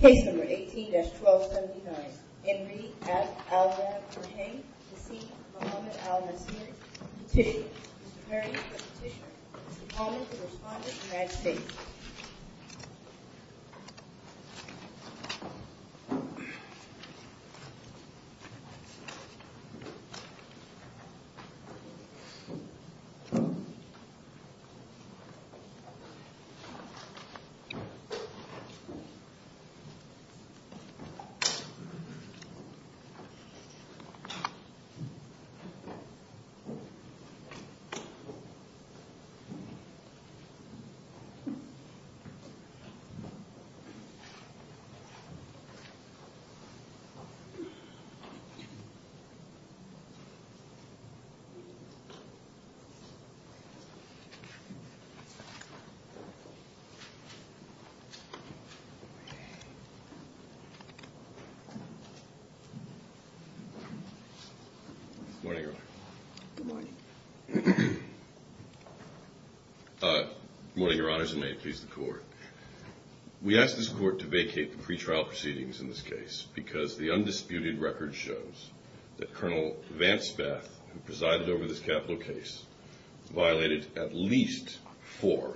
Case number 18-1279, Enri F. Al-Rahim Hussein Muhammad Al-Nashir Petitioner, Mr. Perry is the Petitioner, Mr. Palmer is the Responder, and that's it. Thank you. Good morning, Your Honor. Good morning. Good morning, Your Honors, and may it please the Court. We ask this Court to vacate the pretrial proceedings in this case because the undisputed record shows that Colonel Vance Bath, who presided over this capital case, violated at least four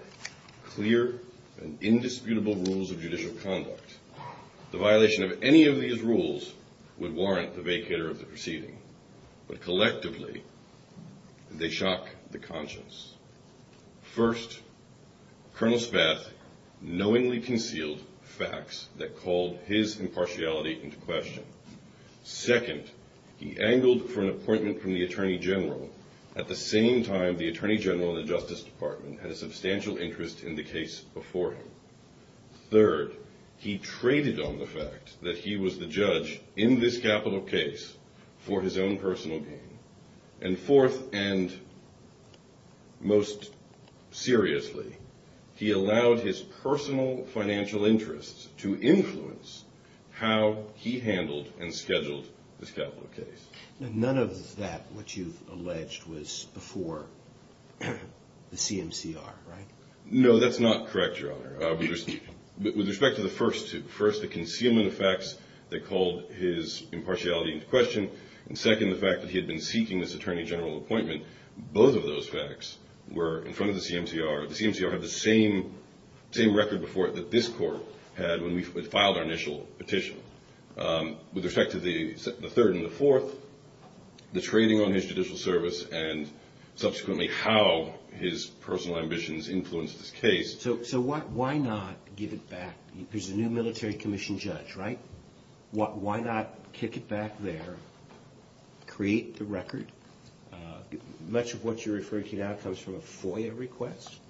clear and indisputable rules of judicial conduct. The violation of any of these rules would warrant the vacator of the proceeding, but collectively, they shock the conscience. First, Colonel Spath knowingly concealed facts that called his impartiality into question. Second, he angled for an appointment from the Attorney General at the same time the Attorney General in the Justice Department had a substantial interest in the case before him. Third, he traded on the fact that he was the judge in this capital case for his own personal gain. And fourth, and most seriously, he allowed his personal financial interests to influence how he handled and scheduled this capital case. None of that, what you've alleged, was before the CMCR, right? No, that's not correct, Your Honor. With respect to the first two, first the concealment of facts that called his impartiality into question, and second, the fact that he had been seeking this Attorney General appointment, both of those facts were in front of the CMCR. The CMCR had the same record before it that this Court had when we filed our initial petition. With respect to the third and the fourth, the trading on his judicial service and subsequently how his personal ambitions influenced this case. So why not give it back? There's a new military commission judge, right? Why not kick it back there, create the record? Much of what you're referring to now comes from a FOIA request.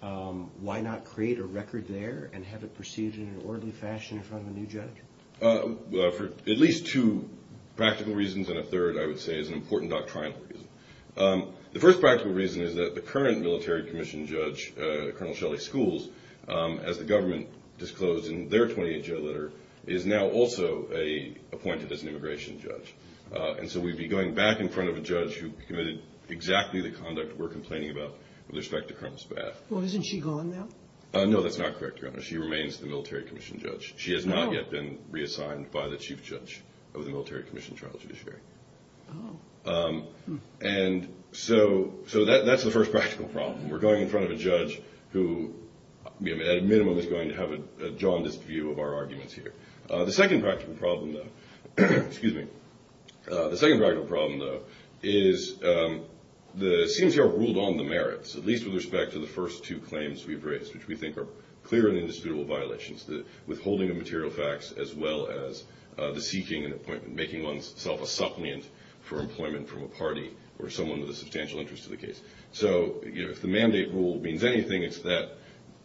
Why not create a record there and have it perceived in an orderly fashion in front of a new judge? For at least two practical reasons, and a third, I would say, is an important doctrinal reason. The first practical reason is that the current military commission judge, Colonel Shelley Schools, as the government disclosed in their 28-J letter, is now also appointed as an immigration judge. And so we'd be going back in front of a judge who committed exactly the conduct we're complaining about with respect to Colonel Spaff. Well, isn't she gone now? No, that's not correct, Your Honor. She remains the military commission judge. She has not yet been reassigned by the chief judge of the military commission trial judiciary. Oh. And so that's the first practical problem. We're going in front of a judge who, at a minimum, is going to have a jaundiced view of our arguments here. The second practical problem, though, is the CIMS here ruled on the merits, at least with respect to the first two claims we've raised, which we think are clear and indisputable violations, the withholding of material facts as well as the seeking and appointment, making oneself a suppliant for employment from a party or someone with a substantial interest in the case. So if the mandate rule means anything, it's that,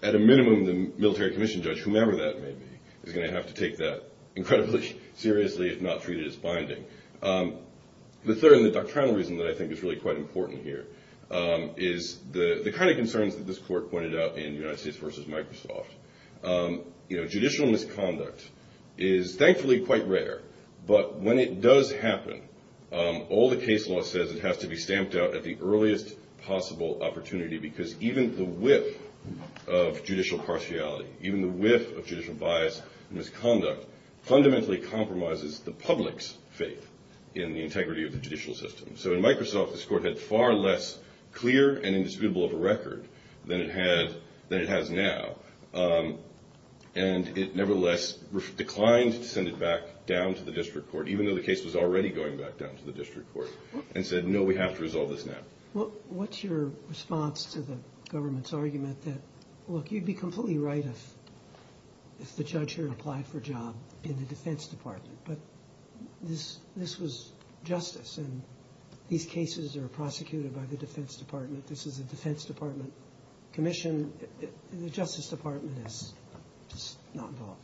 at a minimum, the military commission judge, whomever that may be, is going to have to take that incredibly seriously if not treat it as binding. The third and the doctrinal reason that I think is really quite important here is the kind of concerns that this court pointed out in United States v. Microsoft. You know, judicial misconduct is thankfully quite rare, but when it does happen, all the case law says it has to be stamped out at the earliest possible opportunity because even the whiff of judicial impartiality, even the whiff of judicial bias and misconduct fundamentally compromises the public's faith in the integrity of the judicial system. So in Microsoft, this court had far less clear and indisputable of a record than it has now, and it nevertheless declined to send it back down to the district court, even though the case was already going back down to the district court, and said, no, we have to resolve this now. Well, what's your response to the government's argument that, look, you'd be completely right if the judge here applied for a job in the Defense Department, but this was justice and these cases are prosecuted by the Defense Department. This is a Defense Department commission. The Justice Department is just not involved.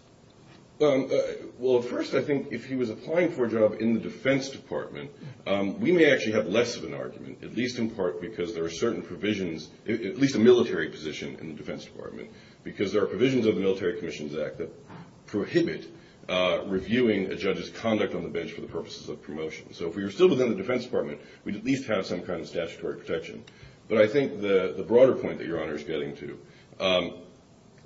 Well, at first, I think if he was applying for a job in the Defense Department, we may actually have less of an argument, at least in part because there are certain provisions, at least a military position in the Defense Department, because there are provisions of the Military Commissions Act that prohibit reviewing a judge's conduct on the bench for the purposes of promotion. So if we were still within the Defense Department, we'd at least have some kind of statutory protection. But I think the broader point that Your Honor is getting to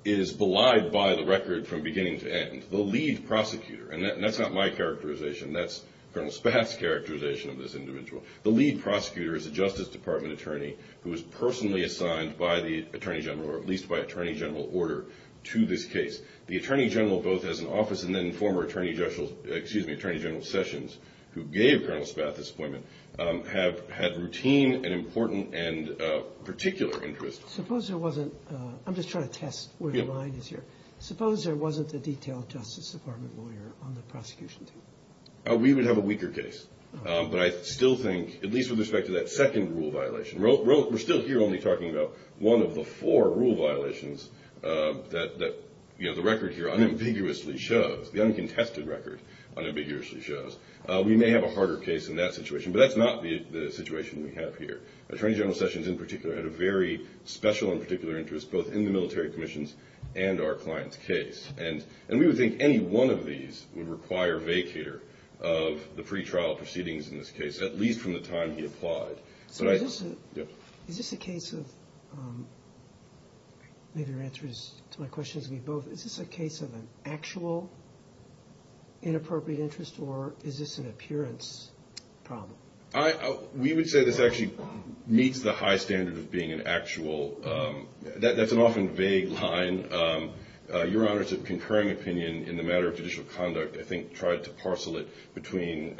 is belied by the record from beginning to end. The lead prosecutor, and that's not my characterization, that's General Spath's characterization of this individual. The lead prosecutor is a Justice Department attorney who was personally assigned by the Attorney General, or at least by Attorney General, order to this case. The Attorney General, both as an office and then former Attorney General Sessions, who gave General Spath this appointment, have had routine and important and particular interest. Suppose there wasn't – I'm just trying to test where your mind is here. Yeah. Suppose there wasn't a detailed Justice Department lawyer on the prosecution team. We would have a weaker case. But I still think, at least with respect to that second rule violation – we're still here only talking about one of the four rule violations that the record here unambiguously shows, the uncontested record unambiguously shows. We may have a harder case in that situation, but that's not the situation we have here. Attorney General Sessions, in particular, had a very special and particular interest both in the Military Commissions and our client's case. And we would think any one of these would require vacator of the pretrial proceedings in this case, at least from the time he applied. So is this a case of – maybe your answer to my question is going to be both. Is this a case of an actual inappropriate interest, or is this an appearance problem? We would say this actually meets the high standard of being an actual – that's an often vague line. Your Honor, it's a concurring opinion in the matter of judicial conduct, I think, tried to parcel it between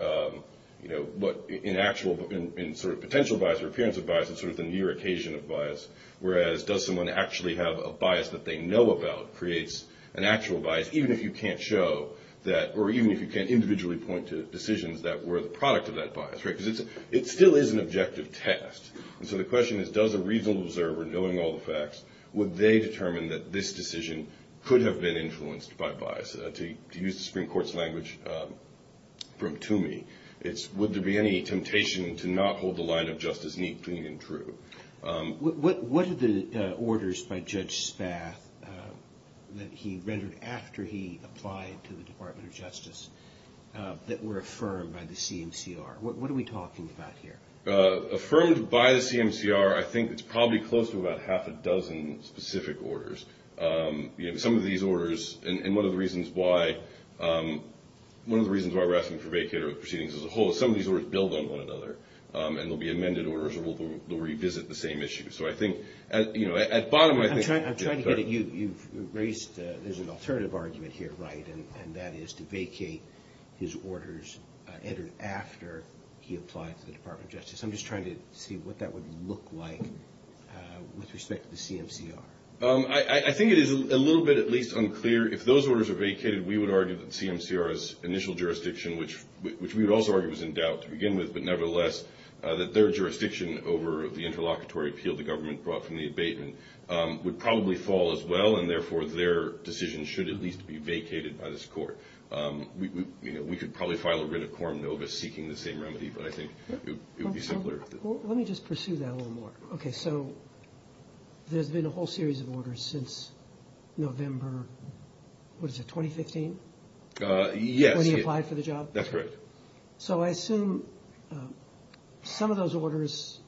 what in actual – in sort of potential bias or appearance of bias, it's sort of the near occasion of bias. Whereas, does someone actually have a bias that they know about creates an actual bias, even if you can't show that – or even if you can't individually point to decisions that were the product of that bias, right? Because it still is an objective test. So the question is, does a reasonable observer, knowing all the facts, would they determine that this decision could have been influenced by bias? To use the Supreme Court's language from Toomey, it's, would there be any temptation to not hold the line of justice neat, clean, and true? What are the orders by Judge Spath that he rendered after he applied to the Department of Justice that were affirmed by the CMCR? What are we talking about here? Affirmed by the CMCR, I think it's probably close to about half a dozen specific orders. Some of these orders – and one of the reasons why – one of the reasons why we're asking for a vacater proceedings as a whole is some of these orders build on one another, and there'll be amended orders or they'll revisit the same issue. So I think, you know, at bottom I think – I'm trying to get at you. You've raised – there's an alternative argument here, right, and that is to vacate his orders entered after he applied to the Department of Justice. I'm just trying to see what that would look like with respect to the CMCR. I think it is a little bit at least unclear. If those orders are vacated, we would argue that the CMCR's initial jurisdiction, which we would also argue was in doubt to begin with, but nevertheless, that their jurisdiction over the interlocutory appeal the government brought from the abatement would probably fall as well, and therefore their decision should at least be vacated by this court. We could probably file a writ of quorum notice seeking the same remedy, but I think it would be simpler. Let me just pursue that a little more. Okay, so there's been a whole series of orders since November – what is it, 2015? Yes. When he applied for the job? That's correct. So I assume some of those orders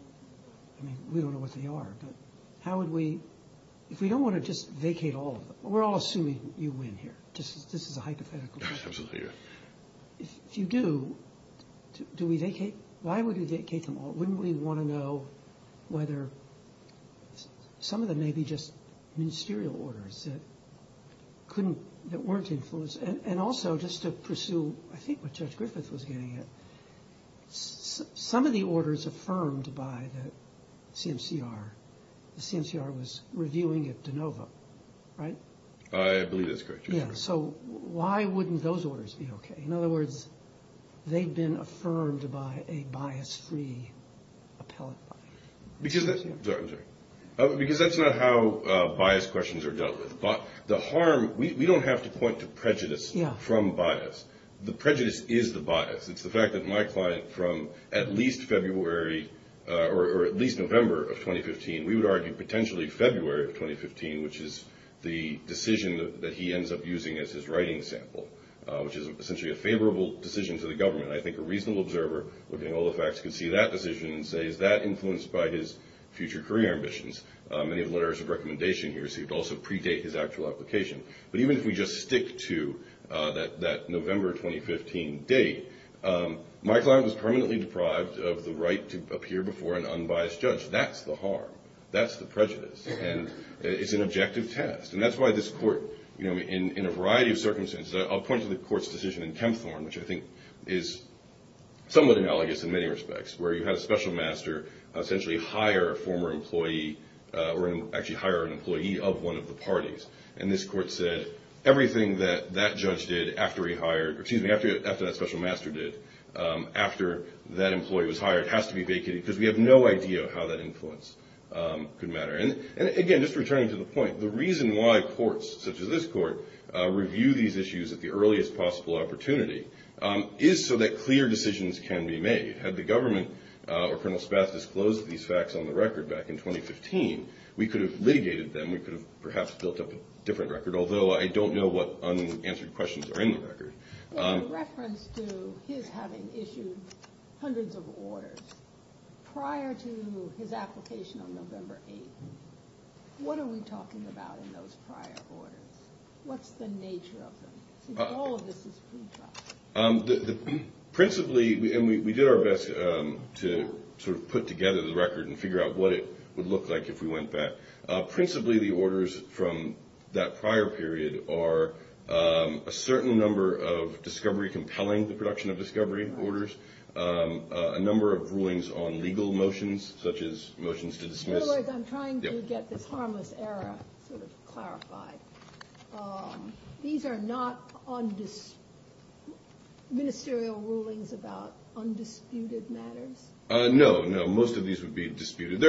– I mean, we don't know what they are, but how would we – if we don't want to just vacate all of them – we're all assuming you win here. This is a hypothetical. Absolutely, yes. If you do, do we vacate – why would we vacate them all? Wouldn't we want to know whether some of them may be just ministerial orders that couldn't – that weren't influenced? And also, just to pursue I think what Judge Griffith was getting at, some of the orders affirmed by the CMCR – the CMCR was reviewing at DeNova, right? I believe that's correct. Yes, so why wouldn't those orders be okay? In other words, they've been affirmed by a bias-free appellate body. Because – sorry, I'm sorry – because that's not how bias questions are dealt with. The harm – we don't have to point to prejudice from bias. The prejudice is the bias. It's the fact that my client from at least February or at least November of 2015 – we would argue potentially February of 2015, which is the decision that he ends up using as his writing sample, which is essentially a favorable decision to the government. I think a reasonable observer, looking at all the facts, can see that decision and say, is that influenced by his future career ambitions? Many of the letters of recommendation he received also predate his actual application. But even if we just stick to that November 2015 date, my client was permanently deprived of the right to appear before an unbiased judge. That's the harm. That's the prejudice. And it's an objective test. And that's why this court, you know, in a variety of circumstances – I'll point to the court's decision in Kempthorne, which I think is somewhat analogous in many respects, where you had a special master essentially hire a former employee – or actually hire an employee of one of the parties. And this court said everything that that judge did after he hired – or excuse me, after that special master did, after that employee was hired, has to be vacated because we have no idea how that influence could matter. And again, just returning to the point, the reason why courts such as this court review these issues at the earliest possible opportunity is so that clear decisions can be made. Had the government or Colonel Spatz disclosed these facts on the record back in 2015, we could have litigated them. We could have perhaps built up a different record, although I don't know what unanswered questions are in the record. In reference to his having issued hundreds of orders prior to his application on November 8th, what are we talking about in those prior orders? What's the nature of them? All of this is food for thought. Principally – and we did our best to sort of put together the record and figure out what it would look like if we went back. Principally, the orders from that prior period are a certain number of discovery compelling, the production of discovery orders, a number of rulings on legal motions, such as motions to dismiss. In other words, I'm trying to get this harmless error sort of clarified. These are not ministerial rulings about undisputed matters? No, no. Most of these would be disputed.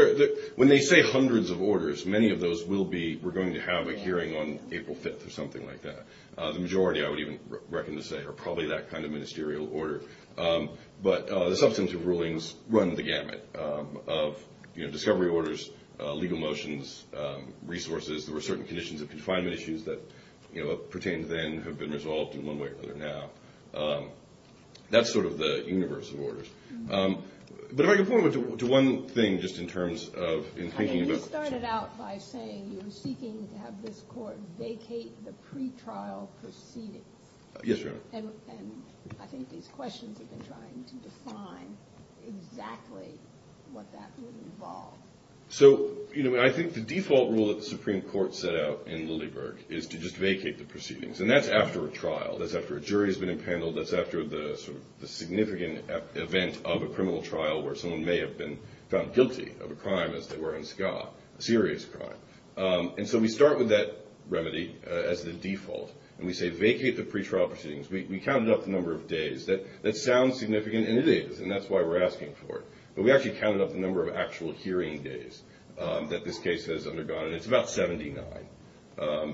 When they say hundreds of orders, many of those will be, we're going to have a hearing on April 5th or something like that. The majority, I would even reckon to say, are probably that kind of ministerial order. But the substantive rulings run the gamut of discovery orders, legal motions, resources. There were certain conditions of confinement issues that pertained then, have been resolved in one way or another now. That's sort of the universe of orders. But if I could point to one thing just in terms of in thinking about – You started out by saying you were seeking to have this court vacate the pretrial proceedings. Yes, Your Honor. And I think these questions have been trying to define exactly what that would involve. So, you know, I think the default rule that the Supreme Court set out in Lilleberg is to just vacate the proceedings. And that's after a trial. That's after a jury has been impaneled. That's after the significant event of a criminal trial where someone may have been found guilty of a crime, as they were in Skah, a serious crime. And so we start with that remedy as the default, and we say vacate the pretrial proceedings. We counted up the number of days. That sounds significant, and it is, and that's why we're asking for it. But we actually counted up the number of actual hearing days that this case has undergone, and it's about 79.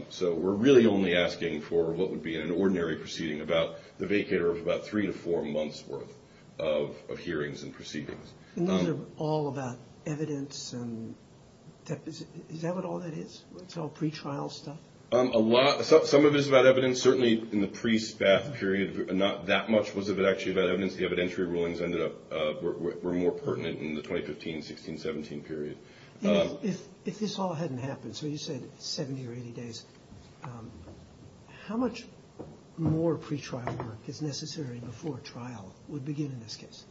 So we're really only asking for what would be an ordinary proceeding about the vacater of about three to four months' worth of hearings and proceedings. And these are all about evidence. Is that what all that is? It's all pretrial stuff? A lot. Some of it is about evidence. Certainly in the pre-Spath period, not that much was actually about evidence. The evidentiary rulings ended up – were more pertinent in the 2015, 16, 17 period. If this all hadn't happened, so you said 70 or 80 days, how much more pretrial work is necessary before trial would begin in this case?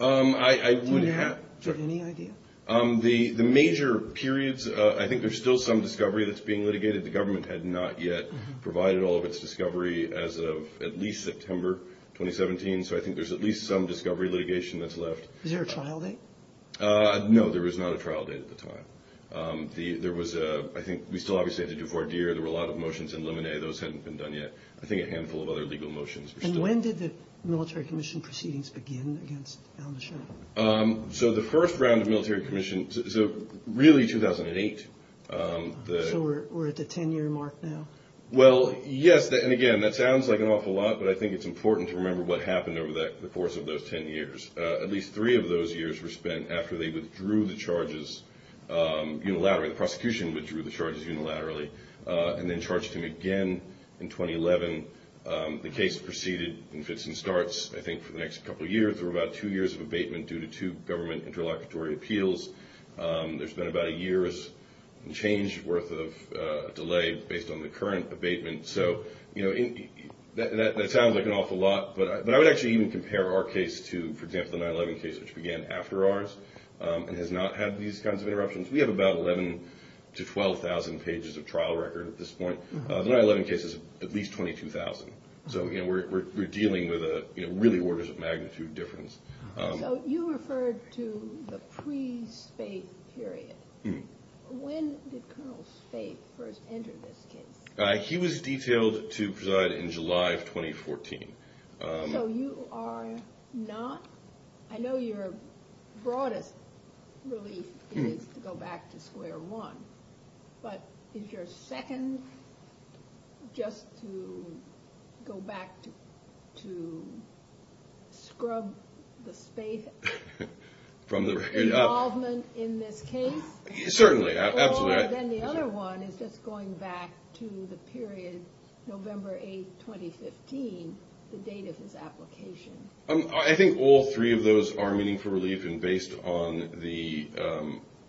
I would have – Do you have any idea? The major periods, I think there's still some discovery that's being litigated. The government had not yet provided all of its discovery as of at least September 2017, so I think there's at least some discovery litigation that's left. Is there a trial date? No, there is not a trial date at the time. There was a – I think we still obviously have the Devoir-Dir. There were a lot of motions in Lemonnet. Those hadn't been done yet. I think a handful of other legal motions were still – And when did the Military Commission proceedings begin against Alan DeShirt? So the first round of Military Commission – so really 2008. So we're at the 10-year mark now? Well, yes, and again, that sounds like an awful lot, but I think it's important to remember what happened over the course of those 10 years. At least three of those years were spent after they withdrew the charges unilaterally. The prosecution withdrew the charges unilaterally and then charged him again in 2011. The case proceeded in fits and starts, I think, for the next couple of years. There were about two years of abatement due to two government interlocutory appeals. There's been about a year's change worth of delay based on the current abatement. So, you know, that sounds like an awful lot, but I would actually even compare our case to, for example, the 9-11 case, which began after ours and has not had these kinds of interruptions. We have about 11,000 to 12,000 pages of trial record at this point. The 9-11 case is at least 22,000. So, you know, we're dealing with a really orders of magnitude difference. So you referred to the pre-Spaith period. When did Colonel Spaith first enter this case? He was detailed to preside in July of 2014. So you are not—I know your broadest relief is to go back to square one, but is your second just to go back to scrub the Spaith involvement in this case? Certainly, absolutely. And then the other one is just going back to the period November 8, 2015, the date of his application. I think all three of those are meaningful relief, and based on the—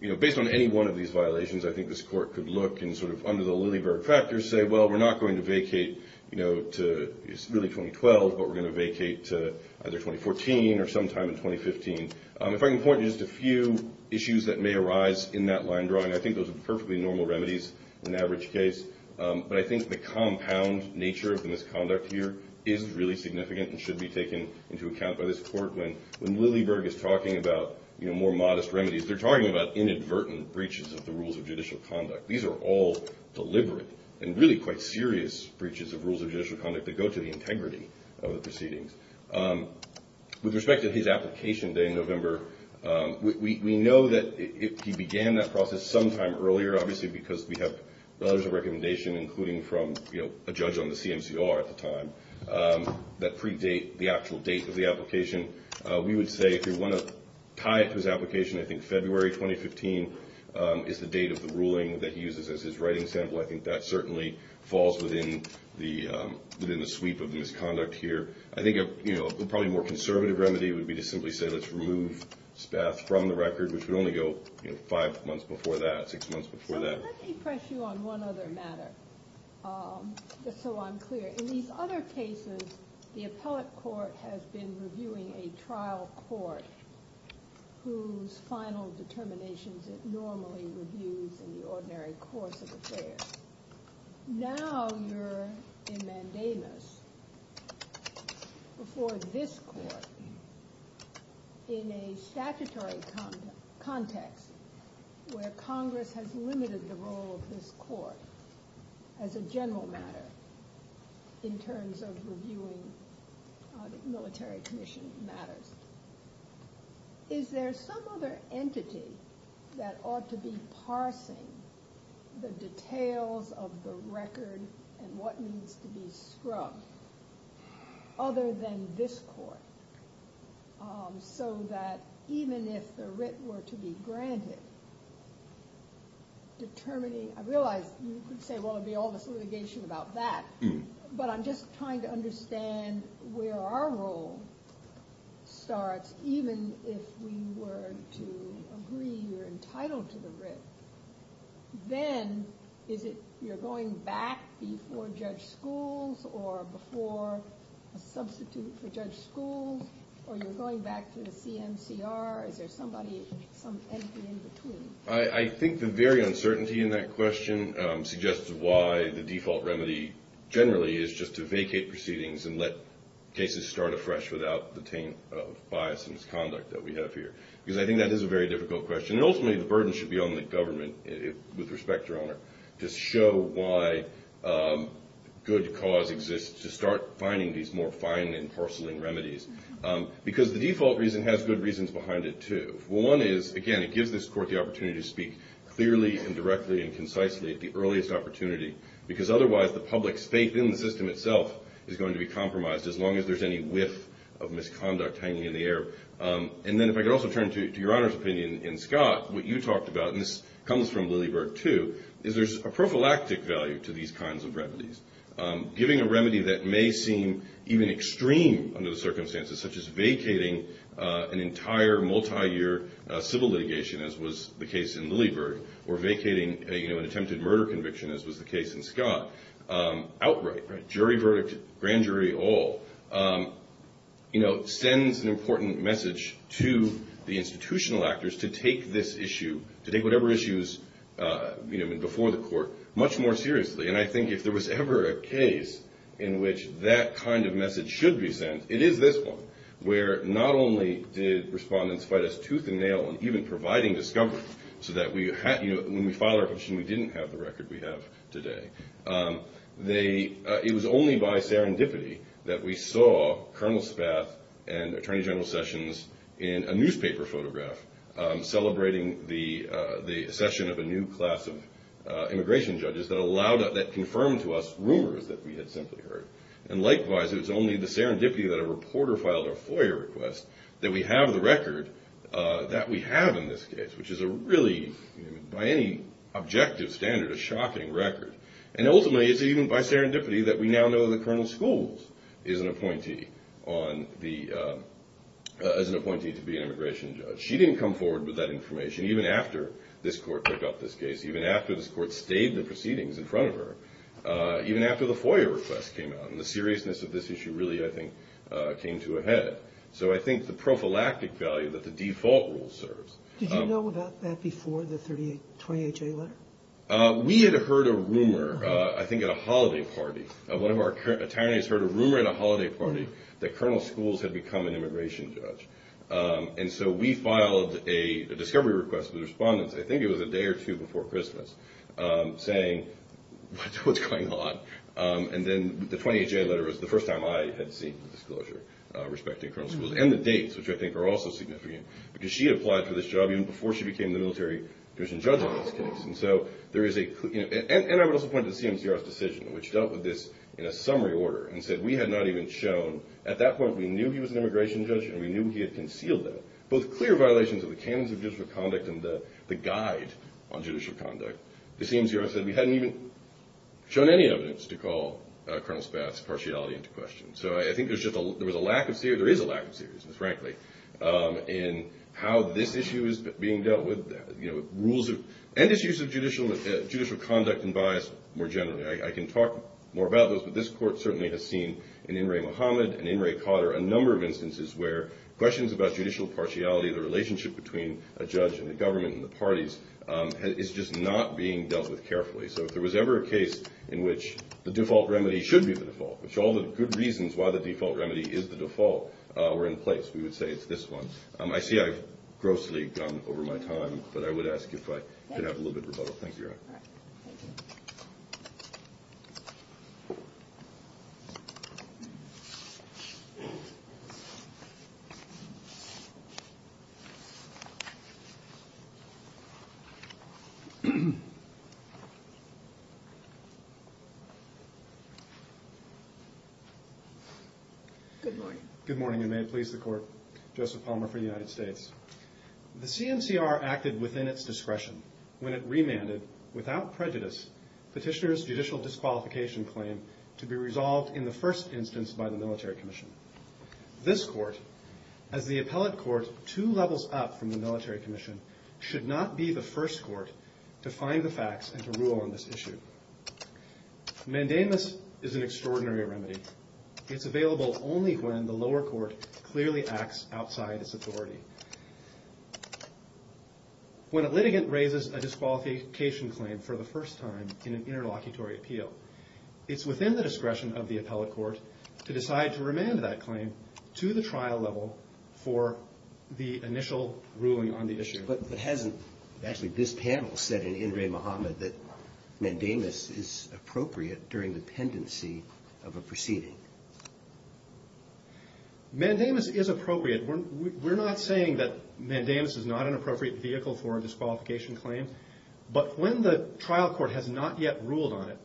you know, based on any one of these violations, I think this court could look and sort of under the lily-bird factor say, well, we're not going to vacate, you know, to really 2012, but we're going to vacate to either 2014 or sometime in 2015. If I can point to just a few issues that may arise in that line drawing, I think those are perfectly normal remedies in the average case, but I think the compound nature of the misconduct here is really significant and should be taken into account by this court. When lily-bird is talking about, you know, more modest remedies, they're talking about inadvertent breaches of the rules of judicial conduct. These are all deliberate and really quite serious breaches of rules of judicial conduct that go to the integrity of the proceedings. With respect to his application day in November, we know that he began that process sometime earlier, obviously, because we have letters of recommendation, including from a judge on the CMCR at the time, that predate the actual date of the application. We would say if you want to tie it to his application, I think February 2015 is the date of the ruling that he uses as his writing sample. I think that certainly falls within the sweep of the misconduct here. I think a probably more conservative remedy would be to simply say let's remove Spath from the record, which would only go five months before that, six months before that. So let me press you on one other matter, just so I'm clear. In these other cases, the appellate court has been reviewing a trial court whose final determinations it normally reviews in the ordinary course of affairs. Now you're in mandamus before this court in a statutory context where Congress has limited the role of this court as a general matter in terms of reviewing military commission matters. Is there some other entity that ought to be parsing the details of the record and what needs to be scrubbed other than this court, so that even if the writ were to be granted, determining, I realize you could say well it would be all this litigation about that, but I'm just trying to understand where our role starts even if we were to agree you're entitled to the writ. Then is it you're going back before Judge Schools or before a substitute for Judge Schools or you're going back to the CMCR? Is there somebody, some entity in between? I think the very uncertainty in that question suggests why the default remedy generally is just to vacate proceedings and let cases start afresh without the taint of bias and misconduct that we have here. Because I think that is a very difficult question. Ultimately the burden should be on the government with respect to owner to show why good cause exists to start finding these more fine and porcelain remedies. Because the default reason has good reasons behind it too. One is again it gives this court the opportunity to speak clearly and directly and concisely at the earliest opportunity because otherwise the public's faith in the system itself is going to be compromised as long as there's any whiff of misconduct hanging in the air. And then if I could also turn to your Honor's opinion in Scott, what you talked about, and this comes from Lilleberg too, is there's a prophylactic value to these kinds of remedies. Giving a remedy that may seem even extreme under the circumstances such as vacating an entire multi-year civil litigation as was the case in Lilleberg or vacating an attempted murder conviction as was the case in Scott outright, jury verdict, grand jury all, sends an important message to the institutional actors to take this issue, to take whatever issues before the court much more seriously. And I think if there was ever a case in which that kind of message should be sent, it is this one where not only did respondents fight us tooth and nail and even providing discovery so that when we filed our petition we didn't have the record we have today. It was only by serendipity that we saw Colonel Spath and Attorney General Sessions in a newspaper photograph celebrating the accession of a new class of immigration judges that confirmed to us rumors that we had simply heard. And likewise, it was only the serendipity that a reporter filed a FOIA request that we have the record that we have in this case, which is a really, by any objective standard, a shocking record. And ultimately, it's even by serendipity that we now know that Colonel Scholes is an appointee to be an immigration judge. She didn't come forward with that information even after this court picked up this case, even after this court stayed the proceedings in front of her, even after the FOIA request came out. And the seriousness of this issue really, I think, came to a head. So I think the prophylactic value that the default rule serves. Did you know about that before the 28-J letter? We had heard a rumor, I think, at a holiday party. One of our attorneys heard a rumor at a holiday party that Colonel Scholes had become an immigration judge. And so we filed a discovery request to the respondents, I think it was a day or two before Christmas, saying, what's going on? And then the 28-J letter was the first time I had seen the disclosure respecting Colonel Scholes and the dates, which I think are also significant, because she had applied for this job even before she became the military judge in this case. And so there is a – and I would also point to the CMCR's decision, which dealt with this in a summary order and said we had not even shown – at that point we knew he was an immigration judge and we knew he had concealed that, both clear violations of the canons of judicial conduct and the guide on judicial conduct. The CMCR said we hadn't even shown any evidence to call Colonel Spath's partiality into question. So I think there's just a – there was a lack of – there is a lack of seriousness, frankly, in how this issue is being dealt with. You know, rules of – and issues of judicial conduct and bias more generally. I can talk more about those, but this Court certainly has seen in In re Mohammed and in re Cotter a number of instances where questions about judicial partiality, the relationship between a judge and the government and the parties, is just not being dealt with carefully. So if there was ever a case in which the default remedy should be the default, which all the good reasons why the default remedy is the default were in place, we would say it's this one. I see I've grossly gone over my time, but I would ask if I could have a little bit of rebuttal. Thank you. Good morning. Good morning, and may it please the Court. Joseph Palmer for the United States. The CMCR acted within its discretion when it remanded, without prejudice, petitioner's judicial disqualification claim to be resolved in the first instance by the military commission. This Court, as the appellate court two levels up from the military commission, should not be the first court to find the facts and to rule on this issue. Mandamus is an extraordinary remedy. It's available only when the lower court clearly acts outside its authority. When a litigant raises a disqualification claim for the first time in an interlocutory appeal, it's within the discretion of the appellate court to decide to remand that claim to the trial level for the initial ruling on the issue. Actually, this panel said in Indre Mohamed that Mandamus is appropriate during the pendency of a proceeding. Mandamus is appropriate. We're not saying that Mandamus is not an appropriate vehicle for a disqualification claim, but when the trial court has not yet ruled on it,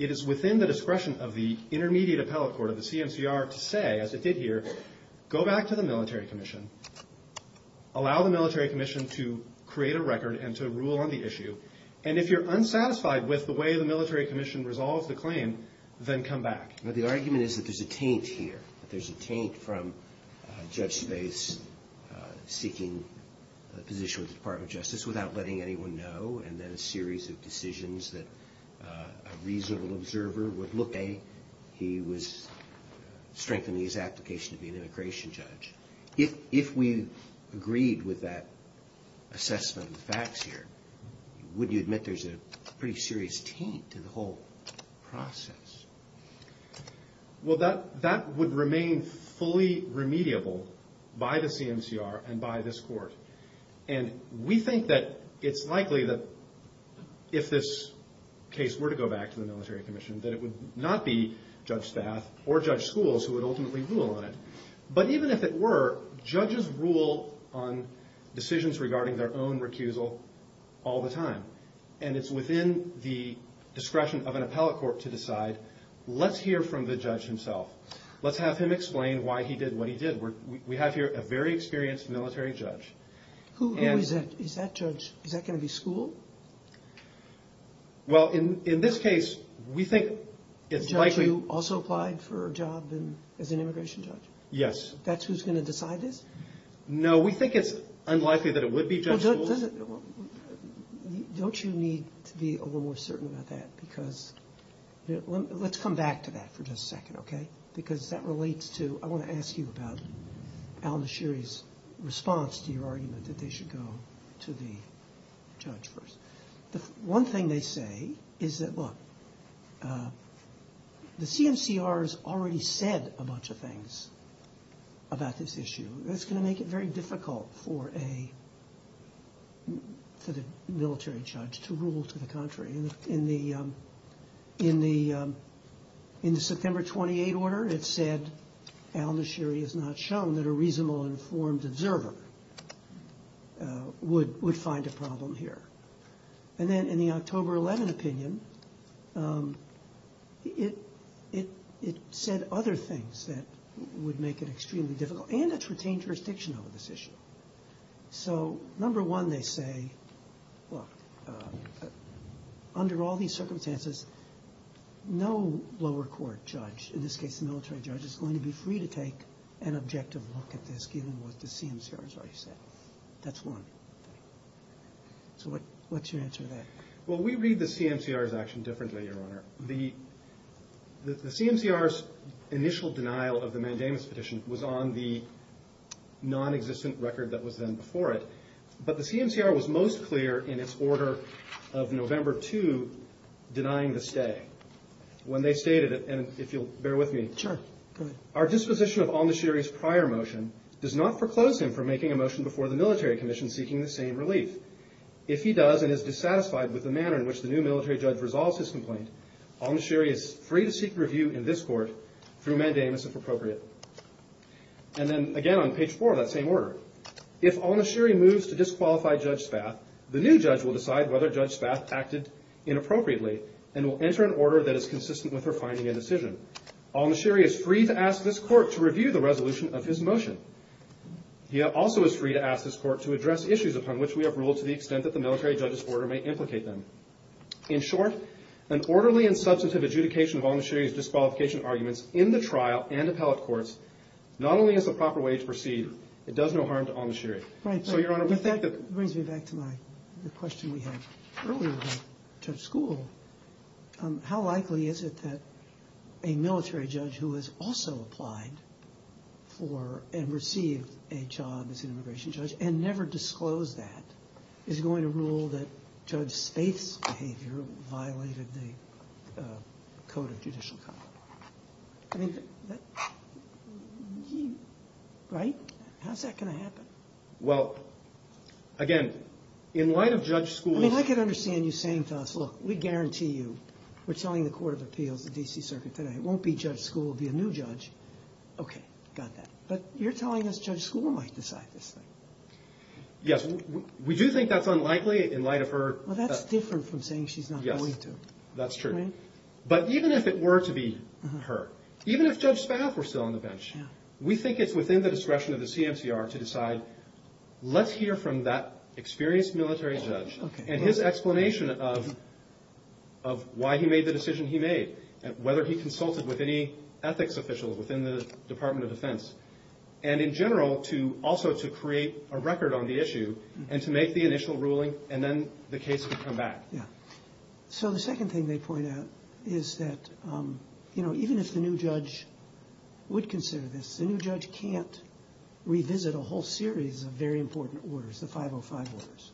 it is within the discretion of the intermediate appellate court of the CMCR to say, as it did here, go back to the military commission, allow the military commission to create a record and to rule on the issue, and if you're unsatisfied with the way the military commission resolves the claim, then come back. The argument is that there's a taint here. There's a taint from Judge Space seeking a position with the Department of Justice without letting anyone know, and then a series of decisions that a reasonable observer would look at. In a way, he was strengthening his application to be an immigration judge. If we agreed with that assessment of the facts here, wouldn't you admit there's a pretty serious taint to the whole process? Well, that would remain fully remediable by the CMCR and by this court, and we think that it's likely that if this case were to go back to the military commission, that it would not be Judge Spath or Judge Schools who would ultimately rule on it. But even if it were, judges rule on decisions regarding their own recusal all the time, and it's within the discretion of an appellate court to decide, let's hear from the judge himself. Let's have him explain why he did what he did. We have here a very experienced military judge. Who is that judge? Is that going to be School? Well, in this case, we think it's likely. The judge who also applied for a job as an immigration judge? Yes. That's who's going to decide this? No, we think it's unlikely that it would be Judge Schools. Don't you need to be a little more certain about that? Because let's come back to that for just a second, okay? Because that relates to, I want to ask you about Alan Asheri's response to your argument that they should go to the judge first. One thing they say is that, look, the CMCR has already said a bunch of things about this issue. That's going to make it very difficult for a military judge to rule to the contrary. In the September 28 order, it said, Alan Asheri has not shown that a reasonable informed observer would find a problem here. And then in the October 11 opinion, it said other things that would make it extremely difficult. And it's retained jurisdiction over this issue. So number one, they say, look, under all these circumstances, no lower court judge, in this case a military judge, is going to be free to take an objective look at this given what the CMCR has already said. That's one. So what's your answer to that? Well, we read the CMCR's action differently, Your Honor. The CMCR's initial denial of the mandamus petition was on the nonexistent record that was then before it. But the CMCR was most clear in its order of November 2, denying the stay, when they stated, and if you'll bear with me, our disposition of Alan Asheri's prior motion does not proclose him from making a motion before the military commission seeking the same relief. If he does and is dissatisfied with the manner in which the new military judge resolves his complaint, Alan Asheri is free to seek review in this court through mandamus, if appropriate. And then, again, on page four of that same order, if Alan Asheri moves to disqualify Judge Spath, the new judge will decide whether Judge Spath acted inappropriately and will enter an order that is consistent with her finding a decision. Alan Asheri is free to ask this court to review the resolution of his motion. He also is free to ask this court to address issues upon which we have ruled to the extent that the military judge's order may implicate them. In short, an orderly and substantive adjudication of Alan Asheri's disqualification arguments in the trial and appellate courts not only is the proper way to proceed, it does no harm to Alan Asheri. So, Your Honor, we think that... That brings me back to the question we had earlier about touch school. How likely is it that a military judge who has also applied for and received a job as an immigration judge and never disclosed that, is going to rule that Judge Spath's behavior violated the code of judicial conduct? Right? How's that going to happen? Well, again, in light of judge school... Because I can understand you saying to us, look, we guarantee you, we're telling the Court of Appeals, the D.C. Circuit today, it won't be judge school, it will be a new judge. Okay, got that. But you're telling us judge school might decide this thing. Yes, we do think that's unlikely in light of her... Well, that's different from saying she's not going to. Yes, that's true. Right? But even if it were to be her, even if Judge Spath were still on the bench, we think it's within the discretion of the CMCR to decide, let's hear from that experienced military judge and his explanation of why he made the decision he made, whether he consulted with any ethics officials within the Department of Defense, and in general, also to create a record on the issue and to make the initial ruling, and then the case could come back. Yeah. So the second thing they point out is that, you know, even if the new judge would consider this, the new judge can't revisit a whole series of very important orders, the 505 orders,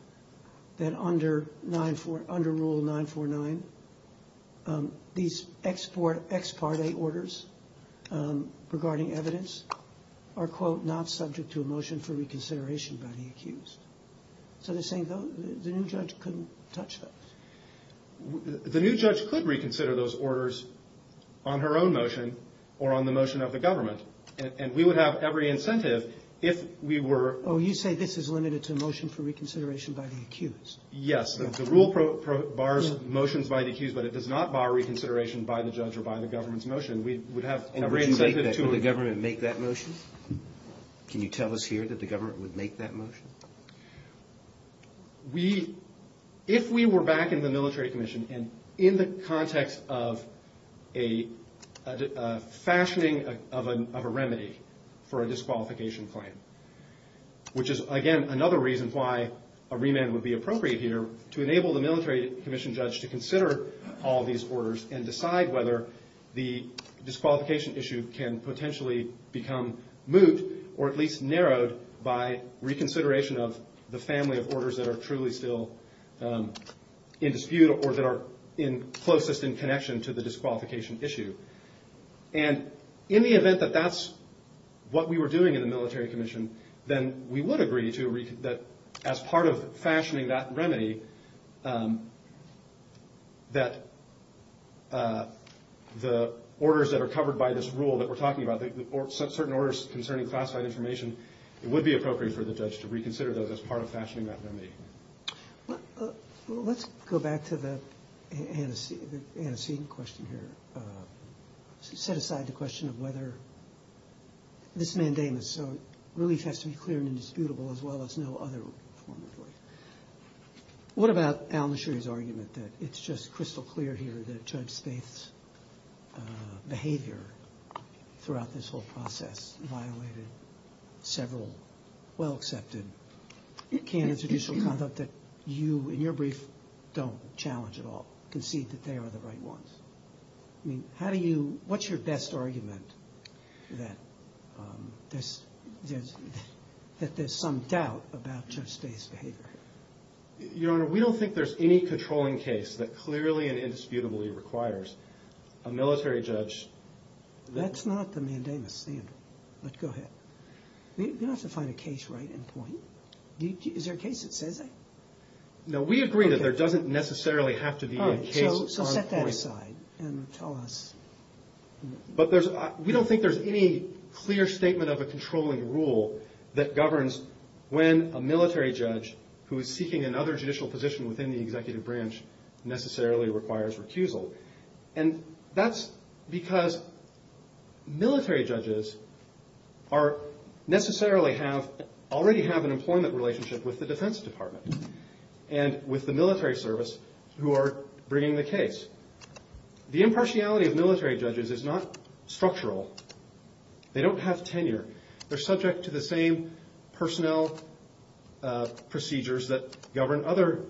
that under Rule 949, these ex parte orders regarding evidence are, quote, not subject to a motion for reconsideration by the accused. So they're saying the new judge couldn't touch those. The new judge could reconsider those orders on her own motion or on the motion of the government, and we would have every incentive if we were... Oh, you say this is limited to a motion for reconsideration by the accused. Yes. The rule bars motions by the accused, but it does not bar reconsideration by the judge or by the government's motion. We would have every incentive to... Would the government make that motion? Can you tell us here that the government would make that motion? We... If we were back in the military commission, and in the context of a fashioning of a remedy for a disqualification claim, which is, again, another reason why a remand would be appropriate here, to enable the military commission judge to consider all these orders and decide whether the disqualification issue can potentially become moved or at least narrowed by reconsideration of the family of orders that are truly still in dispute or that are closest in connection to the disqualification issue. And in the event that that's what we were doing in the military commission, then we would agree that as part of fashioning that remedy, that the orders that are covered by this rule that we're talking about, certain orders concerning classified information, it would be appropriate for the judge to reconsider those as part of fashioning that remedy. Let's go back to the antecedent question here. Set aside the question of whether this mandamus, so relief has to be clear and indisputable as well as no other form of relief. What about Alan Sherry's argument that it's just crystal clear here that Judge Spaeth's behavior throughout this whole process violated several well-accepted canons of judicial conduct that you, in your brief, don't challenge at all, concede that they are the right ones? I mean, how do you, what's your best argument that there's some doubt about Judge Spaeth's behavior? Your Honor, we don't think there's any controlling case that clearly and indisputably requires a military judge. That's not the mandamus standard, but go ahead. You don't have to find a case right in point. Is there a case that says that? No, we agree that there doesn't necessarily have to be a case on point. So set that aside and tell us. But there's, we don't think there's any clear statement of a controlling rule that governs when a military judge who is seeking another judicial position within the executive branch necessarily requires recusal. And that's because military judges are, necessarily have, already have an employment relationship with the Defense Department and with the military service who are bringing the case. The impartiality of military judges is not structural. They don't have tenure. They're subject to the same personnel procedures that govern other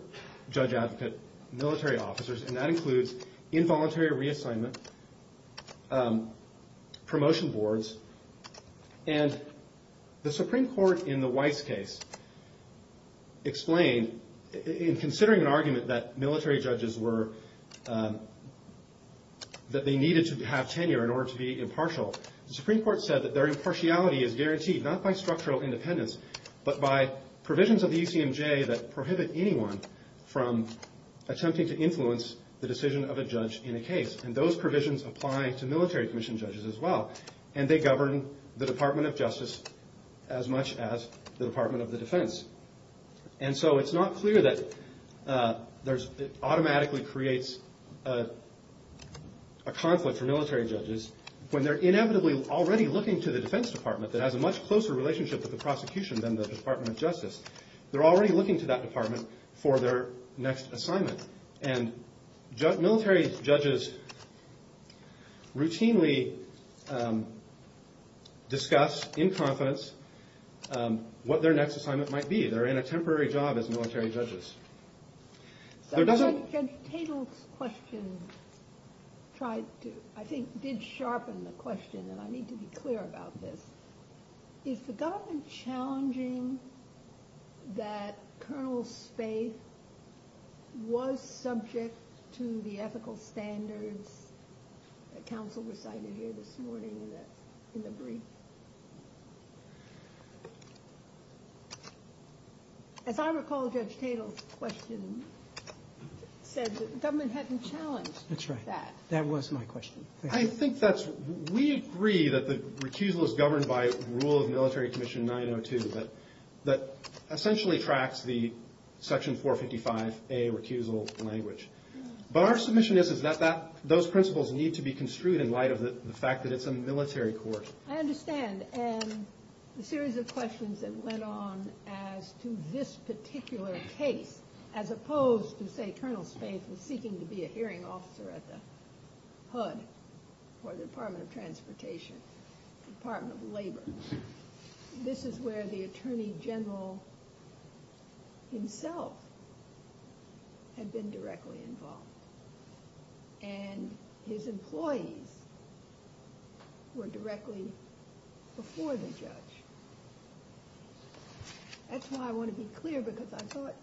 judge-advocate military officers, and that includes involuntary reassignment, promotion boards. And the Supreme Court in the Weiss case explained, in considering an argument that military judges were, that they needed to have tenure in order to be impartial, the Supreme Court said that their impartiality is guaranteed not by structural independence, but by provisions of the UCMJ that prohibit anyone from attempting to influence the decision of a judge in a case. And those provisions apply to military commission judges as well. And they govern the Department of Justice as much as the Department of the Defense. And so it's not clear that it automatically creates a conflict for military judges when they're inevitably already looking to the Defense Department that has a much closer relationship with the prosecution than the Department of Justice. They're already looking to that department for their next assignment. And military judges routinely discuss in confidence what their next assignment might be. They're in a temporary job as military judges. There doesn't... Judge Tatel's question tried to, I think did sharpen the question, and I need to be clear about this. Is the government challenging that Colonel Spaeth was subject to the ethical standards that counsel recited here this morning in the brief? As I recall, Judge Tatel's question said that the government hadn't challenged that. That's right. That was my question. I think that's...we agree that the recusal is governed by rule of military commission 902 that essentially tracks the section 455A recusal language. But our submission is that those principles need to be construed in light of the fact that it's a military court. I understand. And the series of questions that went on as to this particular case, as opposed to say Colonel Spaeth was seeking to be a hearing officer at the HUD or the Department of Transportation, Department of Labor. This is where the Attorney General himself had been directly involved. And his employees were directly before the judge. That's why I want to be clear, because I thought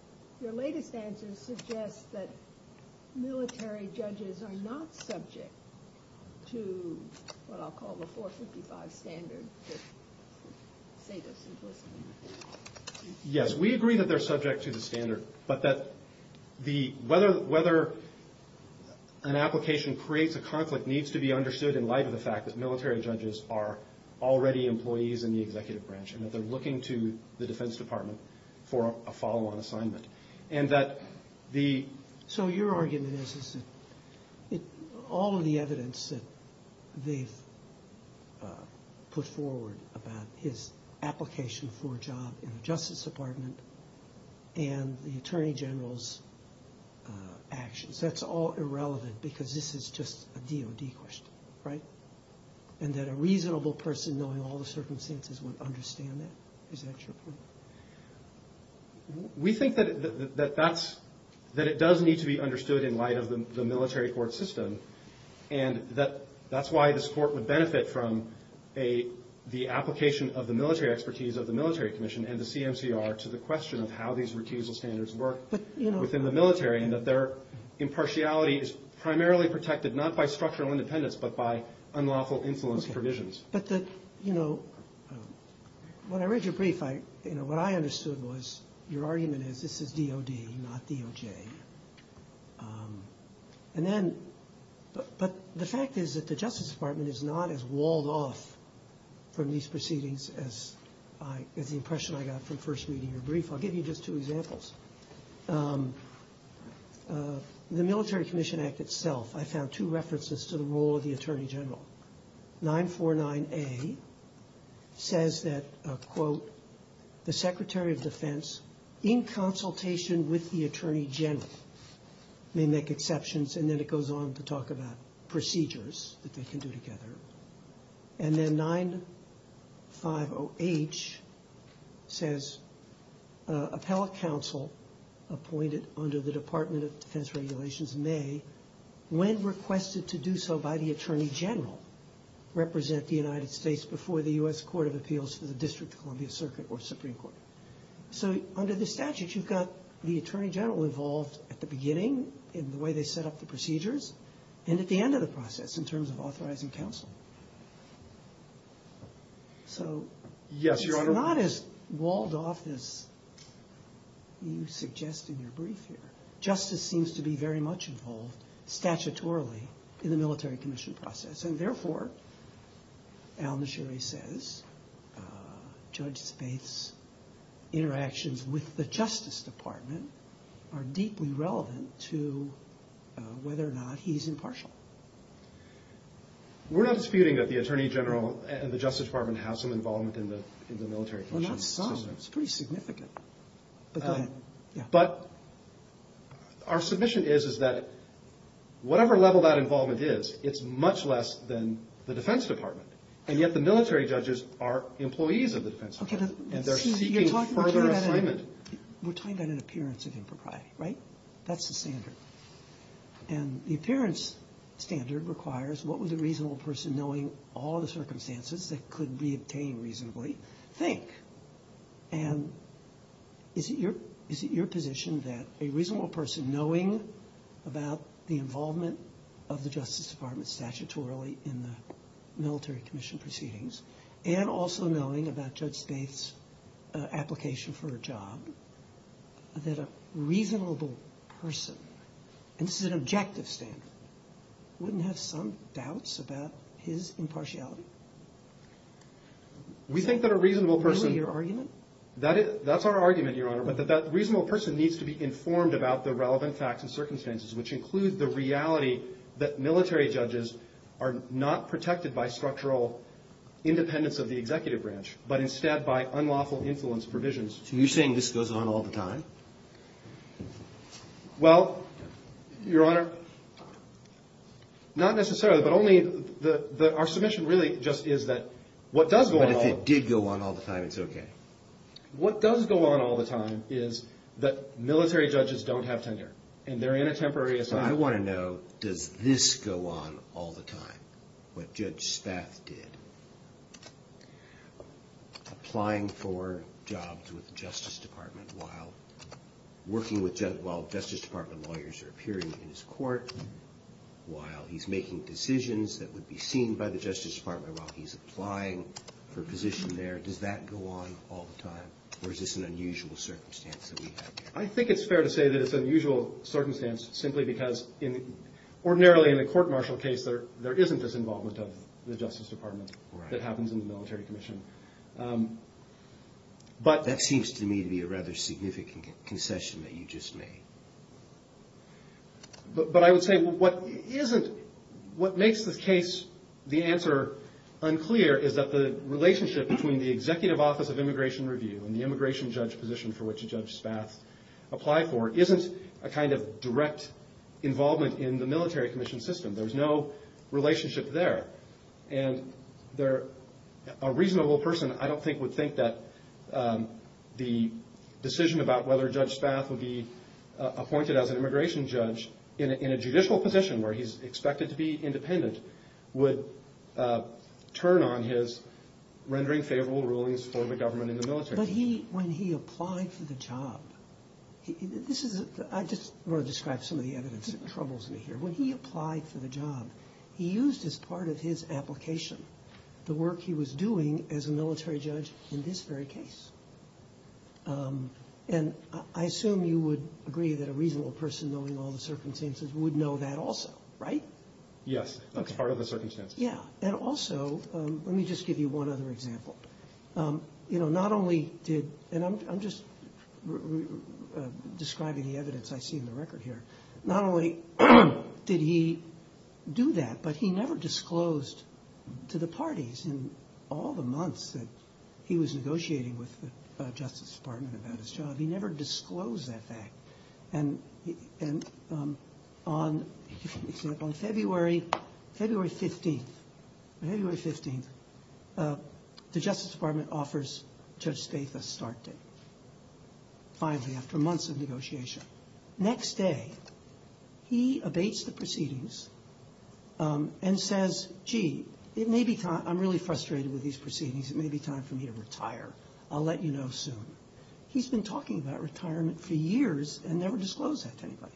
your latest answers suggest that military judges are not subject to what I'll call the 455 standard. Yes, we agree that they're subject to the standard, but that whether an application creates a conflict needs to be understood in light of the fact that military judges are already employees in the executive branch and that they're looking to the Defense Department for a follow-on assignment. So your argument is that all of the evidence that they've put forward about his application for a job in the Justice Department and the Attorney General's actions, that's all irrelevant because this is just a DOD question, right? And that a reasonable person knowing all the circumstances would understand that? Is that your point? We think that it does need to be understood in light of the military court system. And that's why this Court would benefit from the application of the military expertise of the Military Commission and the CMCR to the question of how these recusal standards work within the military and that their impartiality is primarily protected not by structural independence, but by unlawful influence provisions. When I read your brief, what I understood was your argument is this is DOD, not DOJ. But the fact is that the Justice Department is not as walled off from these proceedings as the impression I got from first reading your brief. I'll give you just two examples. The Military Commission Act itself, I found two references to the role of the Attorney General. 949A says that, quote, the Secretary of Defense in consultation with the Attorney General may make exceptions, and then it goes on to talk about procedures that they can do together. And then 950H says appellate counsel appointed under the Department of Defense Regulations may, when requested to do so by the Attorney General, represent the United States before the U.S. Court of Appeals for the District of Columbia Circuit or Supreme Court. So under the statutes, you've got the Attorney General involved at the beginning in the way they set up the procedures and at the end of the process in terms of authorizing counsel. So it's not as walled off as you suggest in your brief here. Justice seems to be very much involved statutorily in the Military Commission process, and therefore, Al-Nashiri says, Judge Spaeth's interactions with the Justice Department are deeply relevant to whether or not he's impartial. We're not disputing that the Attorney General and the Justice Department have some involvement in the Military Commission. Well, not some. It's pretty significant. But our submission is that whatever level that involvement is, it's much less than the Defense Department. And yet the military judges are employees of the Defense Department, and they're seeking further assignment. We're talking about an appearance of impropriety, right? That's the standard. And the appearance standard requires what would a reasonable person, knowing all the circumstances that could be obtained reasonably, think? And is it your position that a reasonable person, knowing about the involvement of the Justice Department statutorily in the Military Commission proceedings, and also knowing about Judge Spaeth's application for a job, that a reasonable person, and this is an objective standard, wouldn't have some doubts about his impartiality? We think that a reasonable person... Really, your argument? That's our argument, Your Honor, but that that reasonable person needs to be informed about the relevant facts and circumstances, which include the reality that military judges are not protected by structural independence of the executive branch, but instead by unlawful influence provisions. So you're saying this goes on all the time? Well, Your Honor, not necessarily, but only... Our submission really just is that what does go on... But if it did go on all the time, it's okay? What does go on all the time is that military judges don't have tenure, and they're in a temporary assignment... I want to know, does this go on all the time, what Judge Spaeth did? Applying for jobs with the Justice Department while working with... while Justice Department lawyers are appearing in his court, while he's making decisions that would be seen by the Justice Department, while he's applying for a position there, does that go on all the time, or is this an unusual circumstance that we have here? I think it's fair to say that it's an unusual circumstance, simply because ordinarily in a court-martial case, there isn't this involvement of the Justice Department that happens in the military commission. That seems to me to be a rather significant concession that you just made. But I would say what isn't... What makes this case, the answer, unclear, is that the relationship between the Executive Office of Immigration Review and the immigration judge position for which Judge Spaeth applied for isn't a kind of direct involvement in the military commission system. There's no relationship there. And a reasonable person, I don't think, would think that the decision about whether Judge Spaeth would be appointed as an immigration judge in a judicial position where he's expected to be independent would turn on his rendering favorable rulings for the government and the military. But he... when he applied for the job... This is... I just want to describe some of the evidence that troubles me here. When he applied for the job, he used as part of his application the work he was doing as a military judge in this very case. And I assume you would agree that a reasonable person, knowing all the circumstances, would know that also, right? Yes. That's part of the circumstances. Yeah. And also, let me just give you one other example. You know, not only did... And I'm just describing the evidence I see in the record here. Not only did he do that, but he never disclosed to the parties in all the months that he was negotiating with the Justice Department about his job, he never disclosed that fact. And on, for example, February 15th, February 15th, the Justice Department offers Judge Spaeth a start date. Finally, after months of negotiation. Next day, he abates the proceedings and says, gee, it may be time... I'm really frustrated with these proceedings. It may be time for me to retire. I'll let you know soon. He's been talking about retirement for years and never disclosed that to anybody.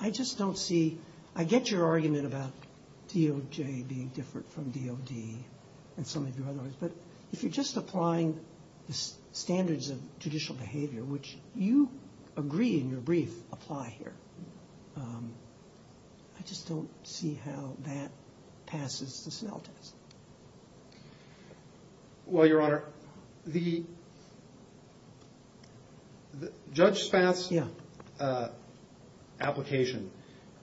I just don't see... I get your argument about DOJ being different from DOD and some of the other ones, but if you're just applying the standards of judicial behavior, which you agree in your brief apply here, I just don't see how that passes the Snell test. Well, Your Honor, the... Judge Spaeth's application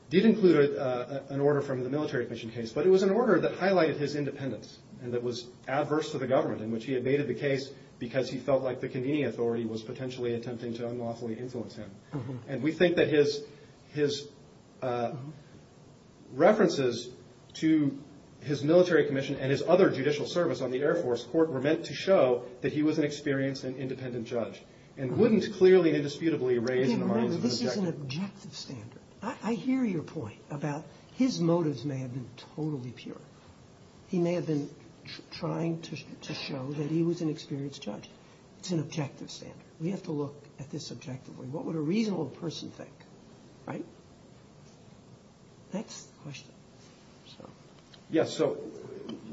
did include an order from the military commission case, but it was an order that highlighted his independence and that was adverse to the government, in which he abated the case because he felt like the convening authority was potentially attempting to unlawfully influence him. And we think that his references to his military commission and his other judicial service on the Air Force Court were meant to show that he was an experienced and independent judge and wouldn't clearly and indisputably raise an objective. This is an objective standard. I hear your point about his motives may have been totally pure. He may have been trying to show that he was an experienced judge. It's an objective standard. We have to look at this objectively. What would a reasonable person think, right? Next question. Yes, so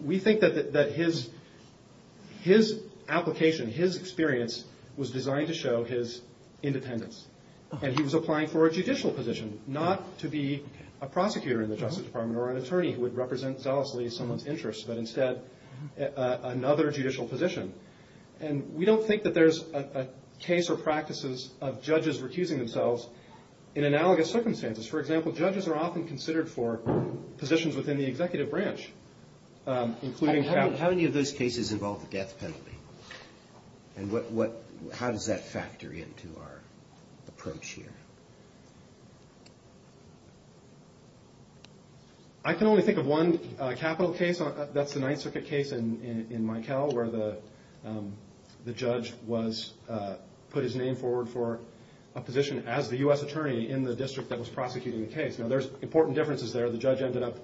we think that his application, his experience, was designed to show his independence. And he was applying for a judicial position, not to be a prosecutor in the Justice Department or an attorney who would represent zealously someone's interests, but instead another judicial position. And we don't think that there's a case or practices of judges recusing themselves in analogous circumstances. For example, judges are often considered for positions within the executive branch, including counsel. How many of those cases involve the death penalty? And how does that factor into our approach here? I can only think of one capital case. That's the Ninth Circuit case in Mikell where the judge put his name forward for a position as the U.S. attorney in the district that was prosecuting the case. Now, there's important differences there. The judge ended up